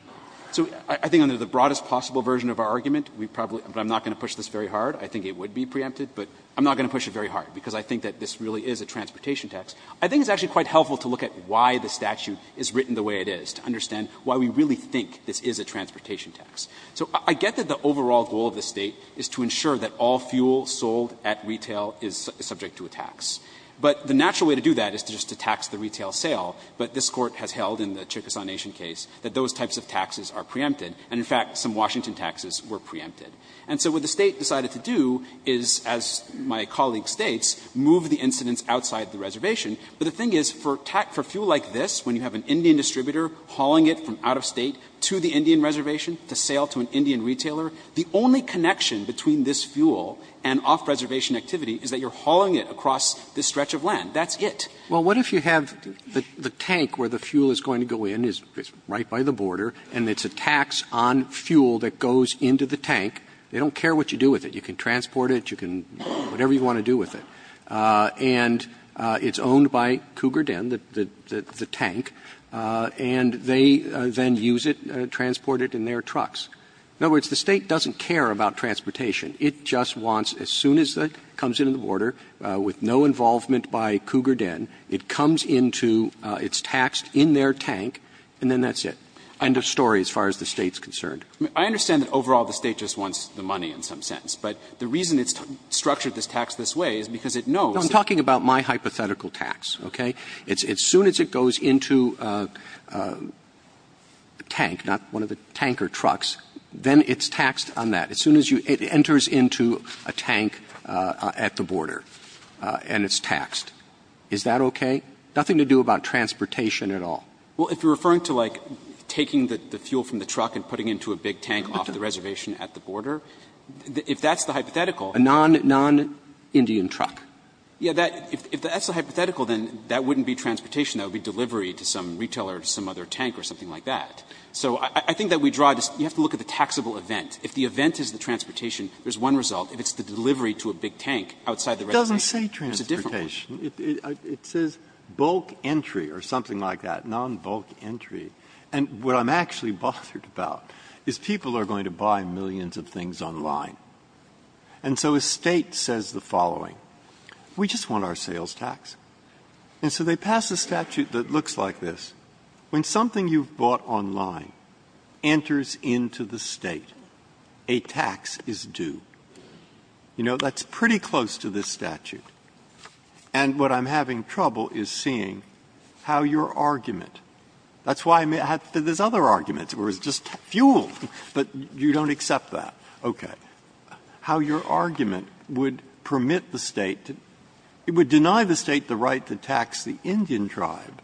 So I think under the broadest possible version of our argument, we probably – but I'm not going to push this very hard. I think it would be preempted, but I'm not going to push it very hard because I think that this really is a transportation tax. I think it's actually quite helpful to look at why the statute is written the way it is, to understand why we really think this is a transportation tax. So I get that the overall goal of the State is to ensure that all fuel sold at retail is subject to a tax. But the natural way to do that is just to tax the retail sale, but this Court has held in the Chickasaw Nation case that those types of taxes are preempted, and, in fact, some Washington taxes were preempted. And so what the State decided to do is, as my colleague states, move the incidents outside the reservation. But the thing is, for fuel like this, when you have an Indian distributor hauling it from out-of-State to the Indian reservation to sale to an Indian retailer, the only connection between this fuel and off-reservation activity is that you're hauling it across this stretch of land. That's it. Roberts. Well, what if you have the tank where the fuel is going to go in, it's right by the border, and it's a tax on fuel that goes into the tank. They don't care what you do with it. You can transport it, you can do whatever you want to do with it. And it's owned by Cougar Den, the tank, and they then use it, transport it in their trucks. In other words, the State doesn't care about transportation. It just wants, as soon as it comes into the border, with no involvement by Cougar Den, it comes into, it's taxed in their tank, and then that's it. End of story as far as the State's concerned. I mean, I understand that overall the State just wants the money in some sense, but the reason it's structured this tax this way is because it knows that. Roberts. I'm talking about my hypothetical tax, okay? As soon as it goes into a tank, not one of the tanker trucks, then it's taxed on that. As soon as it enters into a tank at the border and it's taxed, is that okay? Nothing to do about transportation at all. Well, if you're referring to, like, taking the fuel from the truck and putting it into a big tank off the reservation at the border, if that's the hypothetical A non-Indian truck. Yeah, that, if that's the hypothetical, then that wouldn't be transportation. That would be delivery to some retailer or some other tank or something like that. So I think that we draw this, you have to look at the taxable event. If the event is the transportation, there's one result. If it's the delivery to a big tank outside the reservation, there's a different one. It doesn't say transportation. It says bulk entry or something like that, non-bulk entry. And what I'm actually bothered about is people are going to buy millions of things online. And so a State says the following, we just want our sales tax. And so they pass a statute that looks like this. When something you've bought online enters into the State, a tax is due. You know, that's pretty close to this statute. And what I'm having trouble is seeing how your argument, that's why I'm saying there's other arguments, where it's just fuel, but you don't accept that, okay. How your argument would permit the State to deny the State the right to tax the Indian tribe,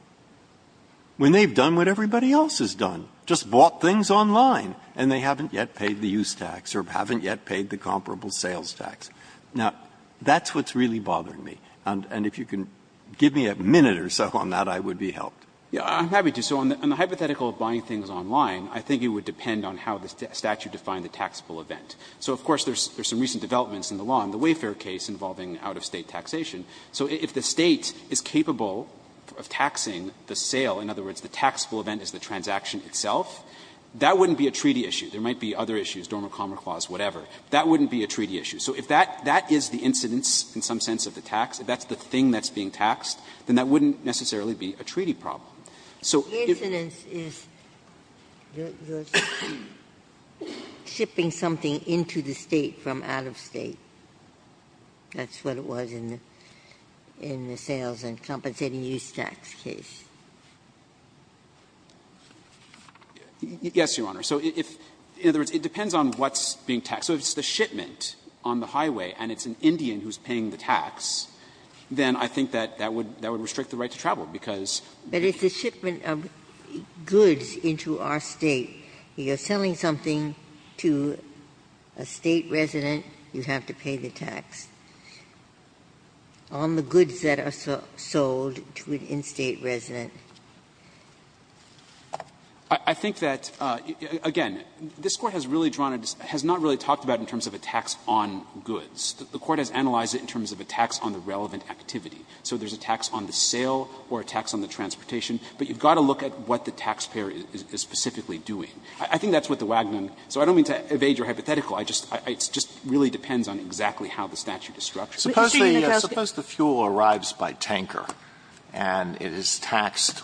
when they've done what everybody else has done, just bought things online. And they haven't yet paid the use tax or haven't yet paid the comparable sales tax. Now, that's what's really bothering me. And if you can give me a minute or so on that, I would be helped. I'm happy to. So on the hypothetical of buying things online, I think it would depend on how the statute defined the taxable event. So of course, there's some recent developments in the law, in the Wayfair case involving out-of-State taxation. So if the State is capable of taxing the sale, in other words, the taxable event is the transaction itself, that wouldn't be a treaty issue. There might be other issues, Dorma Comma Clause, whatever. That wouldn't be a treaty issue. So if that is the incidence in some sense of the tax, if that's the thing that's being taxed, then that wouldn't necessarily be a treaty problem. So if the incident is shipping something into the State from out-of-State. That's what it was in the sales and compensating use tax case. Yes, Your Honor. So if, in other words, it depends on what's being taxed. So if it's the shipment on the highway and it's an Indian who's paying the tax, then I think that that would restrict the right to travel, because if it's a shipment of goods into our State, you're selling something to a State resident, you have to pay the tax, on the goods that are sold to an in-State resident. I think that, again, this Court has really drawn a distance, has not really talked about it in terms of a tax on goods. The Court has analyzed it in terms of a tax on the relevant activity. So there's a tax on the sale or a tax on the transportation, but you've got to look at what the taxpayer is specifically doing. I think that's what the Wagner – so I don't mean to evade your hypothetical. I just – it just really depends on exactly how the statute is structured. Alitoso, the fuel arrives by tanker and it is taxed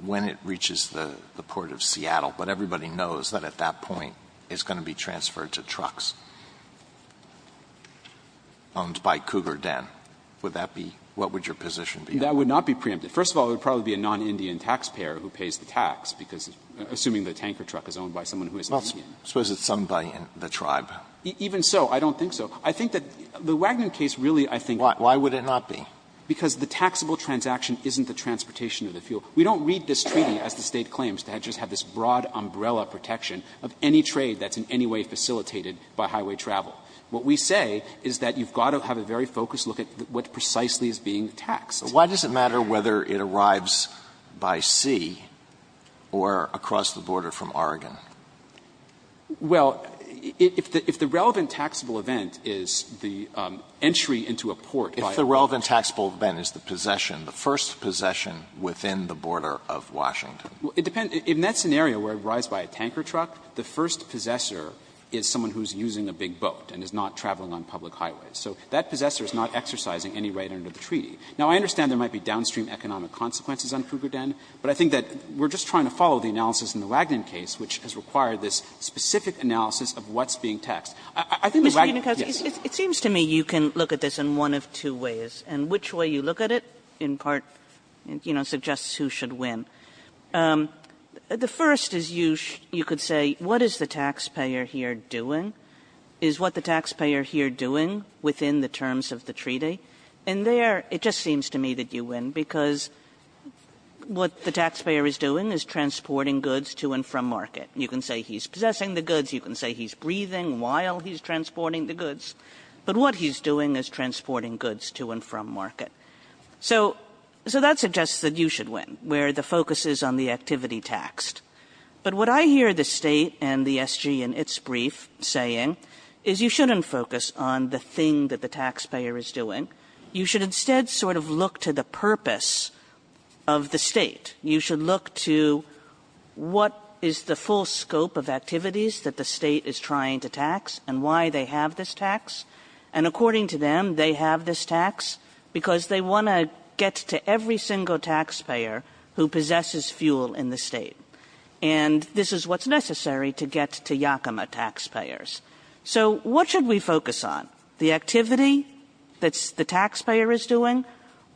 when it reaches the port of Seattle, but everybody knows that at that point it's going to be transferred to trucks. Alitoso, owned by Cougar Den, would that be – what would your position be? That would not be preempted. First of all, it would probably be a non-Indian taxpayer who pays the tax, because assuming the tanker truck is owned by someone who isn't Indian. Well, I suppose it's owned by the tribe. Even so, I don't think so. I think that the Wagner case really, I think – Why? Why would it not be? Because the taxable transaction isn't the transportation of the fuel. We don't read this treaty as the State claims to have just this broad umbrella protection of any trade that's in any way facilitated by highway travel. What we say is that you've got to have a very focused look at what precisely is being taxed. So why does it matter whether it arrives by sea or across the border from Oregon? Well, if the relevant taxable event is the entry into a port by a boat. If the relevant taxable event is the possession, the first possession within the border of Washington. Well, it depends. In that scenario where it arrives by a tanker truck, the first possessor is someone who's using a big boat and is not traveling on public highways. So that possessor is not exercising any right under the treaty. Now, I understand there might be downstream economic consequences on Cougar Den, but I think that we're just trying to follow the analysis in the Wagner case, which has required this specific analysis of what's being taxed. I think the Wagner case, yes. Kagan. Kagan. Kagan. Kagan. Kagan. Kagan. Kagan. Kagan. Kagan. Kagan. Kagan. The first is you could say, what is the taxpayer here doing? Is what the taxpayer here doing within the terms of the treaty? And there, it just seems to me that you win, because what the taxpayer is doing is transporting goods to and from market. You can say he's possessing the goods. You can say he's breathing while he's transporting the goods. But what he's doing is transporting goods to and from market. So that suggests that you should win, where the focus is on the activity taxed. But what I hear the state and the SG in its brief saying is you shouldn't focus on the thing that the taxpayer is doing. You should instead sort of look to the purpose of the state. You should look to what is the full scope of activities that the state is trying to tax and why they have this tax. And according to them, they have this tax because they want to get to every single taxpayer who possesses fuel in the state. And this is what's necessary to get to Yakima taxpayers. So what should we focus on? The activity that the taxpayer is doing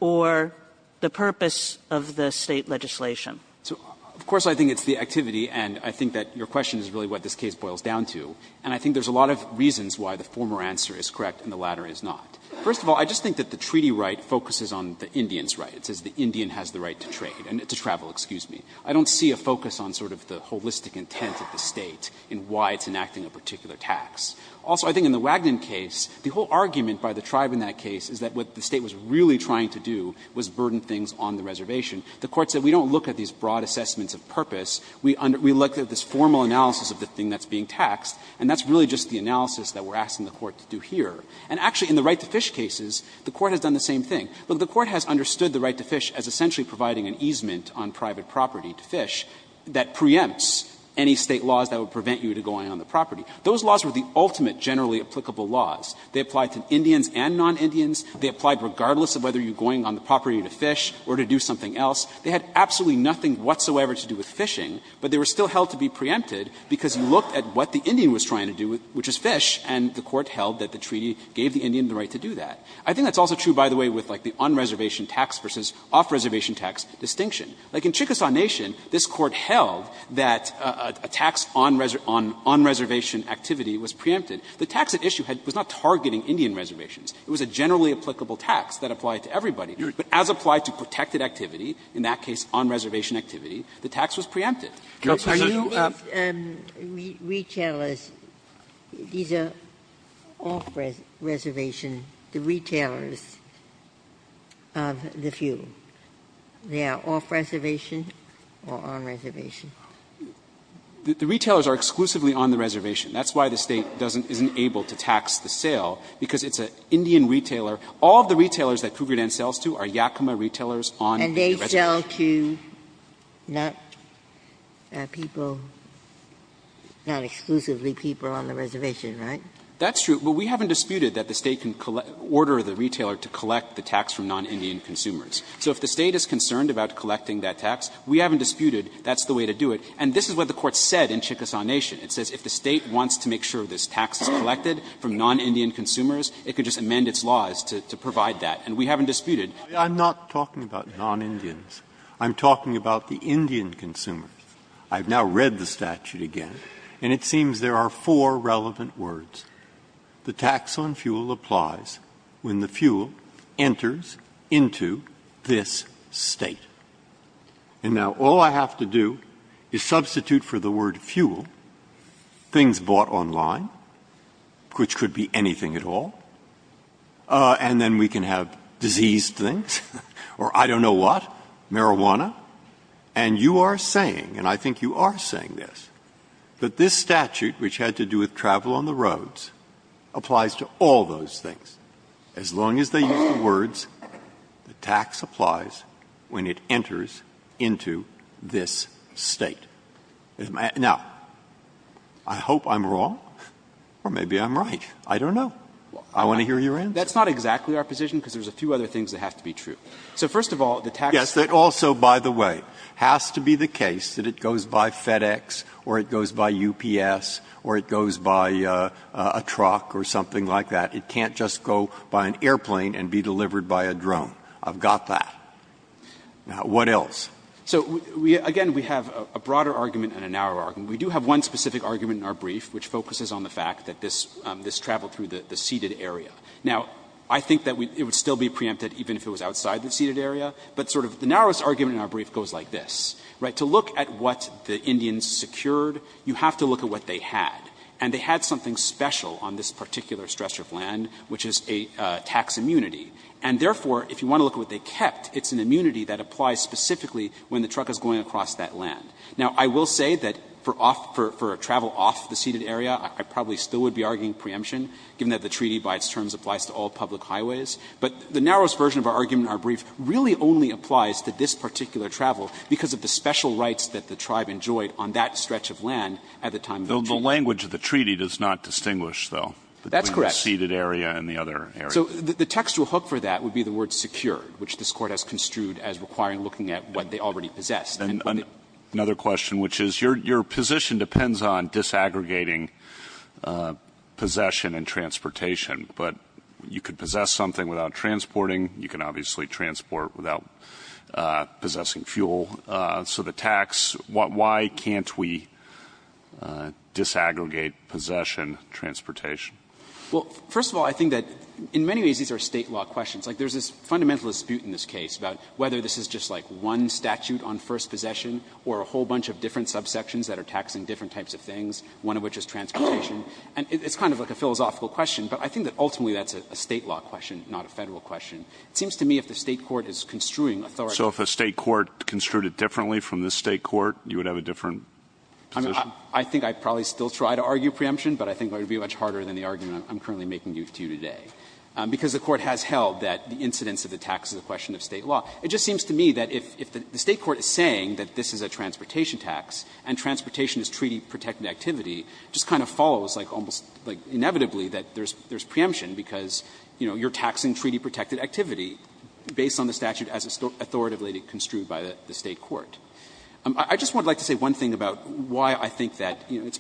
or the purpose of the state legislation? So, of course, I think it's the activity, and I think that your question is really what this case boils down to. And I think there's a lot of reasons why the former answer is correct and the latter is not. First of all, I just think that the treaty right focuses on the Indian's right. It says the Indian has the right to trade and to travel, excuse me. I don't see a focus on sort of the holistic intent of the state in why it's enacting a particular tax. Also, I think in the Wagner case, the whole argument by the tribe in that case is that what the state was really trying to do was burden things on the reservation. The Court said we don't look at these broad assessments of purpose. We look at this formal analysis of the thing that's being taxed, and that's really just the analysis that we're asking the Court to do here. And actually, in the right to fish cases, the Court has done the same thing. Look, the Court has understood the right to fish as essentially providing an easement on private property to fish that preempts any state laws that would prevent you to going on the property. Those laws were the ultimate generally applicable laws. They applied to Indians and non-Indians. They applied regardless of whether you're going on the property to fish or to do something else. They had absolutely nothing whatsoever to do with fishing, but they were still held to be preempted because you looked at what the Indian was trying to do, which is fish, and the Court held that the treaty gave the Indian the right to do that. I think that's also true, by the way, with like the on-reservation tax versus off-reservation tax distinction. Like in Chickasaw Nation, this Court held that a tax on reservation activity was preempted. The tax at issue was not targeting Indian reservations. It was a generally applicable tax that applied to everybody. But as applied to protected activity, in that case on-reservation activity, the tax was preempted. Ginsburg. Are you going to say retailers, these are off-reservation, the retailers of the few. They are off-reservation or on-reservation? The retailers are exclusively on the reservation. That's why the State doesn't isn't able to tax the sale, because it's an Indian retailer. All of the retailers that Cougar Dan sells to are Yakima retailers on the reservation. And they sell to not people, not exclusively people on the reservation, right? That's true, but we haven't disputed that the State can order the retailer to collect the tax from non-Indian consumers. So if the State is concerned about collecting that tax, we haven't disputed that's the way to do it. And this is what the Court said in Chickasaw Nation. It says if the State wants to make sure this tax is collected from non-Indian consumers, it could just amend its laws to provide that. And we haven't disputed. Breyer, I'm not talking about non-Indians. I'm talking about the Indian consumers. I've now read the statute again, and it seems there are four relevant words. The tax on fuel applies when the fuel enters into this State. And now all I have to do is substitute for the word fuel things bought online, which could be anything at all, and then we can have diseased things or I don't know what, marijuana. And you are saying, and I think you are saying this, that this statute, which had to do with travel on the roads, applies to all those things, as long as they use the words the tax applies when it enters into this State. Now, I hope I'm wrong, or maybe I'm right. I don't know. I want to hear your answer. That's not exactly our position, because there's a few other things that have to be true. So first of all, the tax is not true. Yes, it also, by the way, has to be the case that it goes by FedEx or it goes by UPS or it goes by a truck or something like that. It can't just go by an airplane and be delivered by a drone. I've got that. Now, what else? So, again, we have a broader argument and a narrower argument. We do have one specific argument in our brief, which focuses on the fact that this traveled through the ceded area. Now, I think that it would still be preempted even if it was outside the ceded area, but sort of the narrowest argument in our brief goes like this, right? To look at what the Indians secured, you have to look at what they had, and they had something special on this particular stretch of land, which is a tax immunity. And therefore, if you want to look at what they kept, it's an immunity that applies specifically when the truck is going across that land. Now, I will say that for off for travel off the ceded area, I probably still would be arguing preemption, given that the treaty by its terms applies to all public highways. But the narrowest version of our argument in our brief really only applies to this particular travel because of the special rights that the tribe enjoyed on that stretch of land at the time of the treaty. The language of the treaty does not distinguish, though. That's correct. The ceded area and the other area. So the textual hook for that would be the word secured, which this Court has construed as requiring looking at what they already possessed. And another question, which is, your position depends on disaggregating possession and transportation. But you could possess something without transporting. You can obviously transport without possessing fuel. So the tax, why can't we disaggregate possession, transportation? Well, first of all, I think that in many ways these are State law questions. Like, there's this fundamental dispute in this case about whether this is just like one statute on first possession or a whole bunch of different subsections that are taxing different types of things, one of which is transportation. And it's kind of like a philosophical question, but I think that ultimately that's a State law question, not a Federal question. It seems to me if the State court is construing authority. So if a State court construed it differently from this State court, you would have a different position? I mean, I think I'd probably still try to argue preemption, but I think it would be much harder than the argument I'm currently making to you today. Because the Court has held that the incidence of the tax is a question of State law. It just seems to me that if the State court is saying that this is a transportation tax and transportation is treaty-protected activity, it just kind of follows like almost like inevitably that there's preemption because, you know, you're taxing treaty-protected activity based on the statute as authoritatively construed by the State court. I just would like to say one thing about why I think that, you know,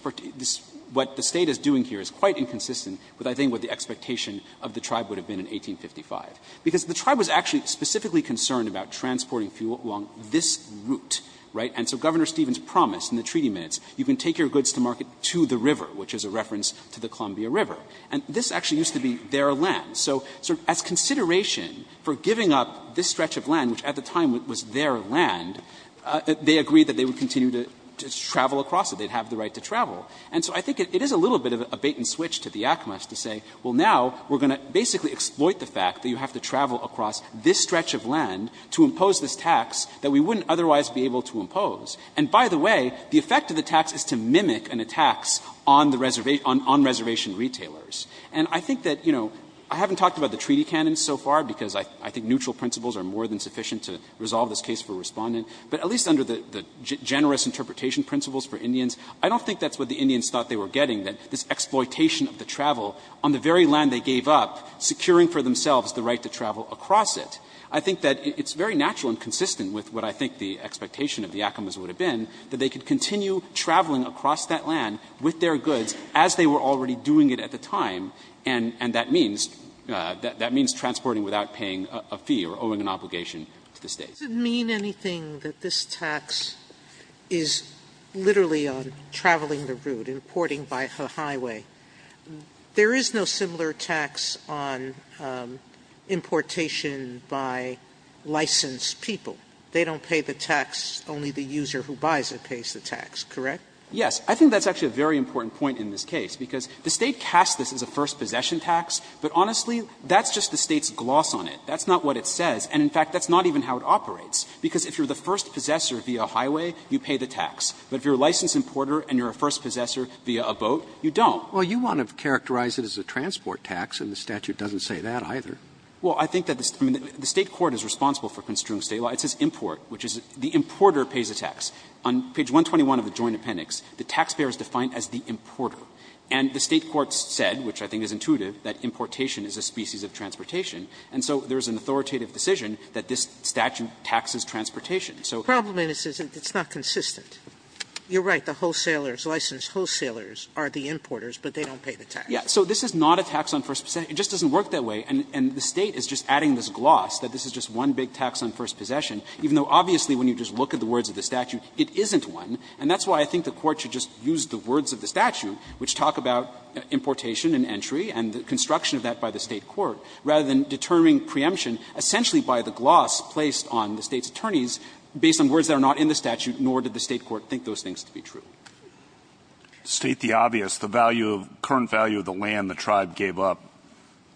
what the State is doing here is quite inconsistent with, I think, what the expectation of the Tribe would have been in 1855, because the Tribe was actually specifically concerned about transporting fuel along this route, right? And so Governor Stevens promised in the treaty minutes you can take your goods to market to the river, which is a reference to the Columbia River, and this actually used to be their land. So as consideration for giving up this stretch of land, which at the time was their land, they agreed that they would continue to travel across it. They'd have the right to travel. And so I think it is a little bit of a bait-and-switch to the ACMAS to say, well, now we're going to basically exploit the fact that you have to travel across this stretch of land to impose this tax that we wouldn't otherwise be able to impose. And by the way, the effect of the tax is to mimic an attack on the reservation – on reservation retailers. And I think that, you know, I haven't talked about the treaty canon so far, because I think neutral principles are more than sufficient to resolve this case for Respondent, but at least under the generous interpretation principles for Indians, I don't think that's what the Indians thought they were getting, that this exploitation of the travel on the very land they gave up, securing for themselves the right to travel across it. I think that it's very natural and consistent with what I think the expectation of the ACMAS would have been, that they could continue traveling across that land with their goods as they were already doing it at the time, and that means transporting without paying a fee or owing an obligation to the State. Sotomayor, does it mean anything that this tax is literally on traveling the route, importing by the highway? There is no similar tax on importation by licensed people. They don't pay the tax, only the user who buys it pays the tax, correct? Yes. I think that's actually a very important point in this case, because the State casts this as a first possession tax, but honestly, that's just the State's gloss on it. That's not what it says. And in fact, that's not even how it operates, because if you're the first possessor via highway, you pay the tax. But if you're a licensed importer and you're a first possessor via a boat, you don't. Well, you want to characterize it as a transport tax, and the statute doesn't say that either. Well, I think that the State court is responsible for construing State law. It says import, which is the importer pays the tax. On page 121 of the Joint Appendix, the taxpayer is defined as the importer. And the State court said, which I think is intuitive, that importation is a species of transportation. And so there is an authoritative decision that this statute taxes transportation. So the problem is it's not consistent. You're right. The wholesalers, licensed wholesalers, are the importers, but they don't pay the tax. Yes. So this is not a tax on first possession. It just doesn't work that way. And the State is just adding this gloss that this is just one big tax on first possession, even though obviously when you just look at the words of the statute, it isn't one. And that's why I think the Court should just use the words of the statute, which talk about importation and entry and the construction of that by the State court, rather than determining preemption essentially by the gloss placed on the State's attorneys based on words that are not in the statute, nor did the State court think those things to be true. State the obvious. The value of the current value of the land the tribe gave up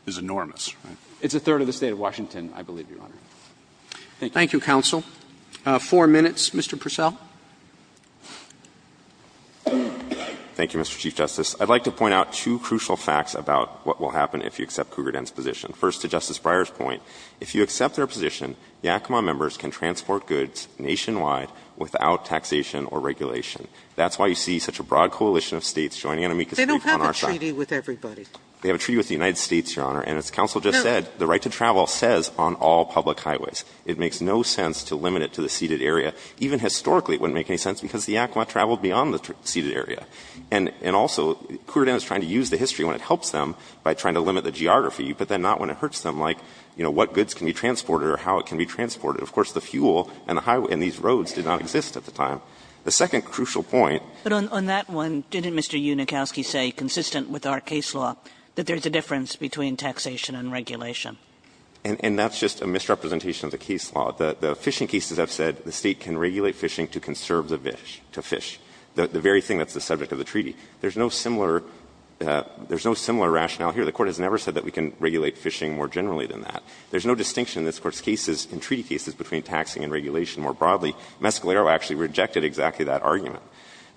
is enormous. It's a third of the State of Washington, I believe, Your Honor. Thank you. Thank you, counsel. Four minutes. Mr. Purcell. Thank you, Mr. Chief Justice. I'd like to point out two crucial facts about what will happen if you accept Cougar Den's position. First, to Justice Breyer's point, if you accept their position, the Acoma members can transport goods nationwide without taxation or regulation. That's why you see such a broad coalition of States joining in on our side. They don't have a treaty with everybody. They have a treaty with the United States, Your Honor. And as counsel just said, the right to travel says on all public highways. It makes no sense to limit it to the ceded area. Even historically, it wouldn't make any sense because the Acoma traveled beyond the ceded area. And also, Cougar Den is trying to use the history when it helps them by trying to limit the geography, but then not when it hurts them, like, you know, what goods can be transported or how it can be transported. Of course, the fuel and the highway and these roads did not exist at the time. The second crucial point — But on that one, didn't Mr. Unikowsky say, consistent with our case law, that there is a difference between taxation and regulation? And that's just a misrepresentation of the case law. The fishing cases I've said, the State can regulate fishing to conserve the fish to fish, the very thing that's the subject of the treaty. There's no similar — there's no similar rationale here. The Court has never said that we can regulate fishing more generally than that. There's no distinction in this Court's cases, in treaty cases, between taxing and regulation more broadly. Mescalero actually rejected exactly that argument.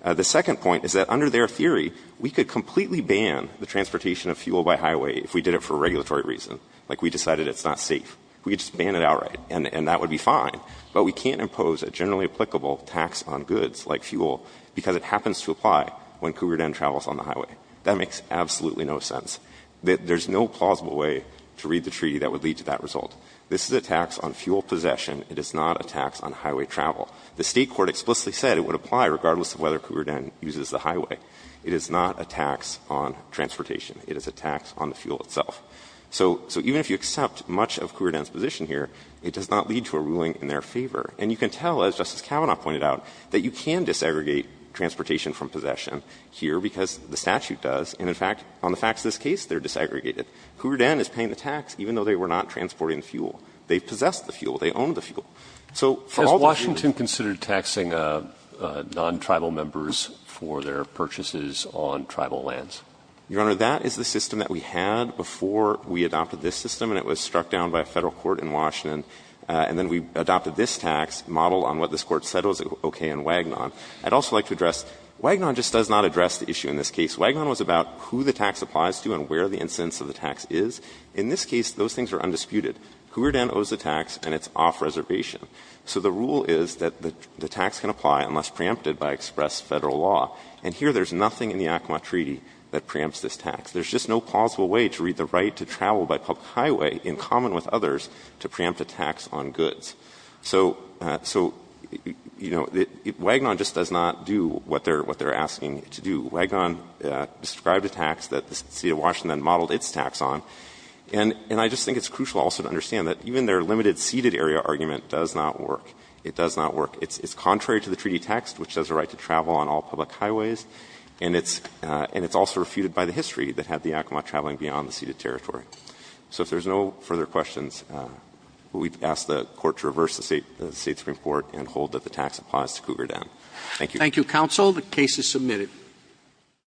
The second point is that under their theory, we could completely ban the transportation of fuel by highway if we did it for a regulatory reason, like we decided it's not safe. We could just ban it outright, and that would be fine. But we can't impose a generally applicable tax on goods, like fuel, because it happens to apply when Cougar Den travels on the highway. That makes absolutely no sense. There's no plausible way to read the treaty that would lead to that result. This is a tax on fuel possession. It is not a tax on highway travel. The State court explicitly said it would apply regardless of whether Cougar Den uses the highway. It is not a tax on transportation. It is a tax on the fuel itself. So even if you accept much of Cougar Den's position here, it does not lead to a ruling in their favor. And you can tell, as Justice Kavanaugh pointed out, that you can desegregate transportation from possession here because the statute does. And in fact, on the facts of this case, they're desegregated. Cougar Den is paying the tax even though they were not transporting the fuel. They possess the fuel. So for all the fuel that they own, it's not a tax on the fuel itself. Robertson, has Washington considered taxing non-tribal members for their purchases on tribal lands? Your Honor, that is the system that we had before we adopted this system, and it was struck down by a Federal court in Washington. And then we adopted this tax model on what this Court said was okay in Wagnon. I'd also like to address, Wagnon just does not address the issue in this case. Wagnon was about who the tax applies to and where the incidence of the tax is. In this case, those things are undisputed. Cougar Den owes the tax and it's off-reservation. So the rule is that the tax can apply unless preempted by express Federal law. And here there's nothing in the Acoma Treaty that preempts this tax. There's just no plausible way to read the right to travel by public highway in common with others to preempt a tax on goods. So, you know, Wagnon just does not do what they're asking to do. Wagnon described a tax that the City of Washington modeled its tax on. And I just think it's crucial also to understand that even their limited ceded area argument does not work. It does not work. It's contrary to the treaty text, which says the right to travel on all public highways, and it's also refuted by the history that had the Acoma traveling beyond the ceded territory. So if there's no further questions, we ask the Court to reverse the State supreme court and hold that the tax applies to Cougar Den. Thank you. Roberts. Thank you, counsel. The case is submitted.